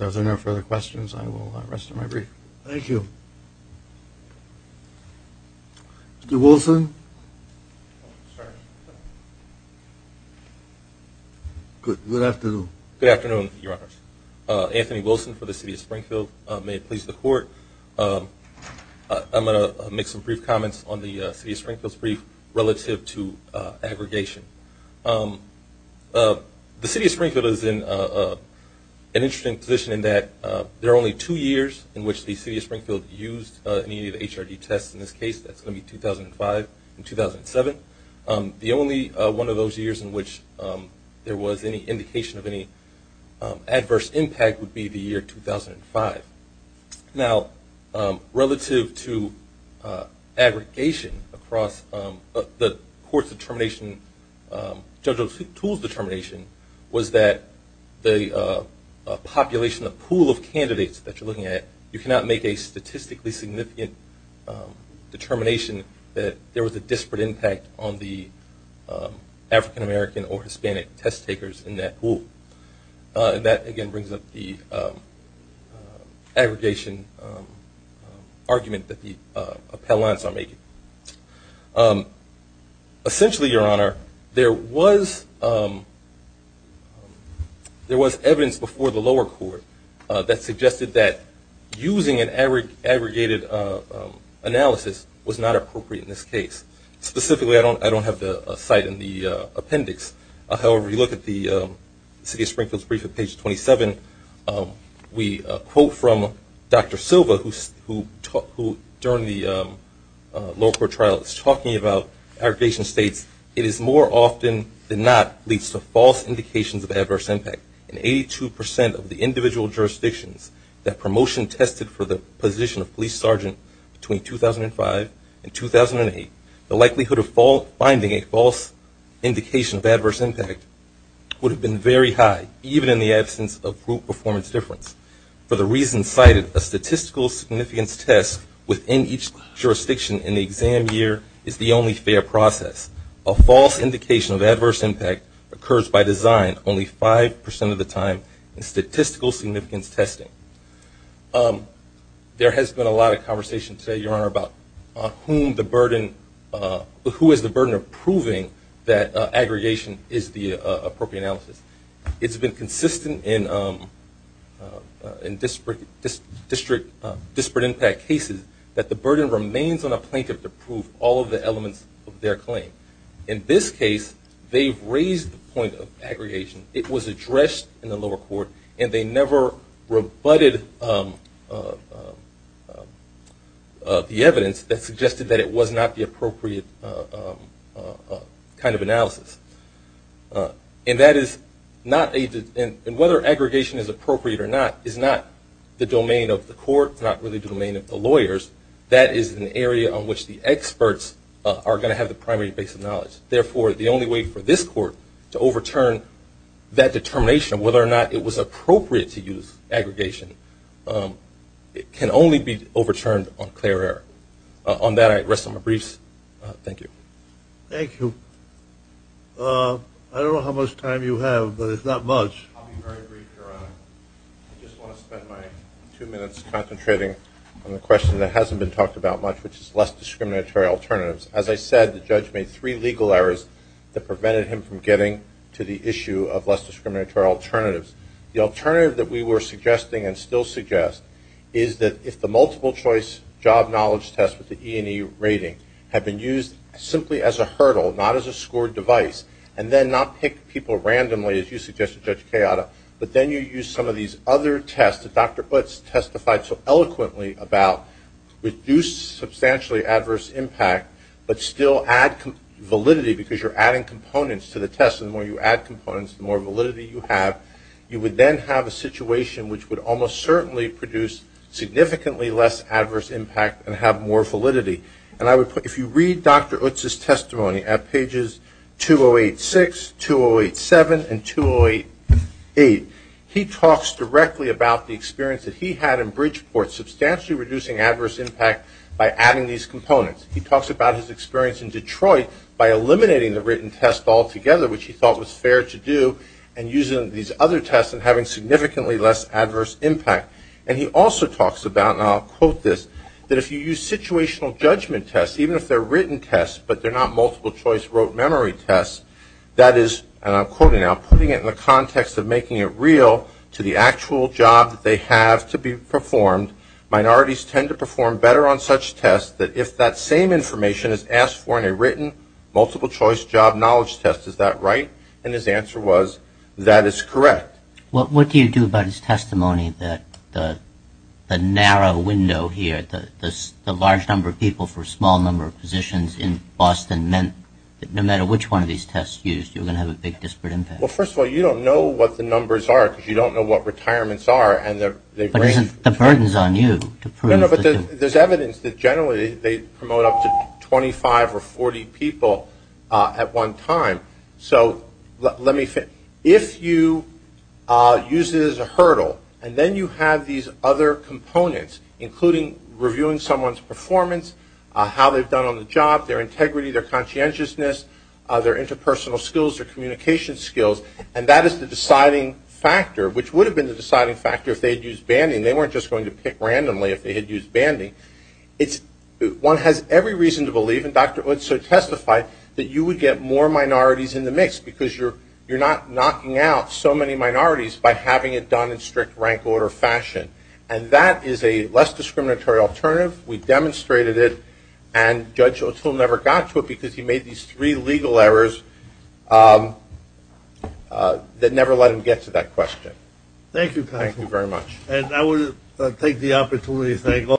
If there are no further questions, I will rest my brief. Thank you. Mr. Wilson. Sir. Good afternoon. Good afternoon, Your Honors. Anthony Wilson for the City of Springfield. May it please the Court. I'm going to make some brief comments on the City of Springfield's brief relative to aggregation. The City of Springfield is in an interesting position in that there are only two years in which the City of Springfield used an immediate HRD test. In this case, that's going to be 2005 and 2007. The only one of those years in which there was any indication of any adverse impact would be the year 2005. Now, relative to aggregation across the court's determination, judge's pool's determination was that the population, the pool of candidates that you're looking at, you cannot make a statistically significant determination that there was a disparate impact on the African American or Hispanic test takers in that pool. That, again, brings up the aggregation argument that the appellants are making. Essentially, Your Honor, there was evidence before the lower court that suggested that using an aggregated analysis was not appropriate in this case. Specifically, I don't have the site in the appendix. However, if you look at the City of Springfield's brief at page 27, we quote from Dr. Silva, who during the lower court trial is talking about aggregation states, it is more often than not leads to false indications of adverse impact. In 82% of the individual jurisdictions that promotion tested for the position of police sergeant between 2005 and 2008, the likelihood of finding a false indication of adverse impact would have been very high, even in the absence of group performance difference. For the reasons cited, a statistical significance test within each jurisdiction in the exam year is the only fair process. A false indication of adverse impact occurs by design only 5% of the time in statistical significance testing. There has been a lot of conversation today, Your Honor, about who is the burden of proving that aggregation is the appropriate analysis. It's been consistent in disparate impact cases that the burden remains on a plaintiff to prove all of the elements of their claim. In this case, they've raised the point of aggregation. It was addressed in the lower court, and they never rebutted the evidence that suggested that it was not the appropriate kind of analysis. And whether aggregation is appropriate or not is not the domain of the court, it's not really the domain of the lawyers. That is an area on which the experts are going to have the primary base of knowledge. Therefore, the only way for this court to overturn that determination of whether or not it was appropriate to use aggregation can only be overturned on clear air. On that, I rest on my briefs. Thank you. Thank you. I don't know how much time you have, but it's not much. I'll be very brief, Your Honor. I just want to spend my two minutes concentrating on a question that hasn't been talked about much, which is less discriminatory alternatives. As I said, the judge made three legal errors that prevented him from getting to the issue of less discriminatory alternatives. The alternative that we were suggesting and still suggest is that if the multiple-choice job knowledge test with the E&E rating had been used simply as a hurdle, not as a scored device, and then not picked people randomly, as you suggested, Judge Tejada, but then you used some of these other tests that Dr. Butts testified so eloquently about, reduced substantially adverse impact but still add validity because you're adding components to the test. And the more you add components, the more validity you have. You would then have a situation which would almost certainly produce significantly less adverse impact and have more validity. And if you read Dr. Butts' testimony at pages 2086, 2087, and 2088, he talks directly about the experience that he had in Bridgeport, substantially reducing adverse impact by adding these components. He talks about his experience in Detroit by eliminating the written test altogether, which he thought was fair to do, and using these other tests and having significantly less adverse impact. And he also talks about, and I'll quote this, that if you use situational judgment tests, even if they're written tests but they're not multiple-choice rote memory tests, that is, and I'm quoting now, putting it in the context of making it real to the actual job that they have to be performed, minorities tend to perform better on such tests that if that same information is asked for in a written multiple-choice job knowledge test, is that right? And his answer was, that is correct. What do you do about his testimony that the narrow window here, the large number of people for a small number of positions in Boston meant that no matter which one of these tests used, you're going to have a big disparate impact? Well, first of all, you don't know what the numbers are because you don't know what retirements are. But the burden is on you. No, no, but there's evidence that generally they promote up to 25 or 40 people at one time. So let me finish. If you use it as a hurdle and then you have these other components, including reviewing someone's performance, how they've done on the job, their integrity, their conscientiousness, their interpersonal skills, their communication skills, and that is the deciding factor, which would have been the deciding factor if they had used banding. They weren't just going to pick randomly if they had used banding. One has every reason to believe, and Dr. Udso testified, that you would get more minorities in the mix because you're not knocking out so many minorities by having it done in strict rank order fashion. And that is a less discriminatory alternative. We've demonstrated it. And Judge Udso never got to it because he made these three legal errors that never let him get to that question. Thank you, Pat. Thank you very much. And I will take the opportunity to thank all of you.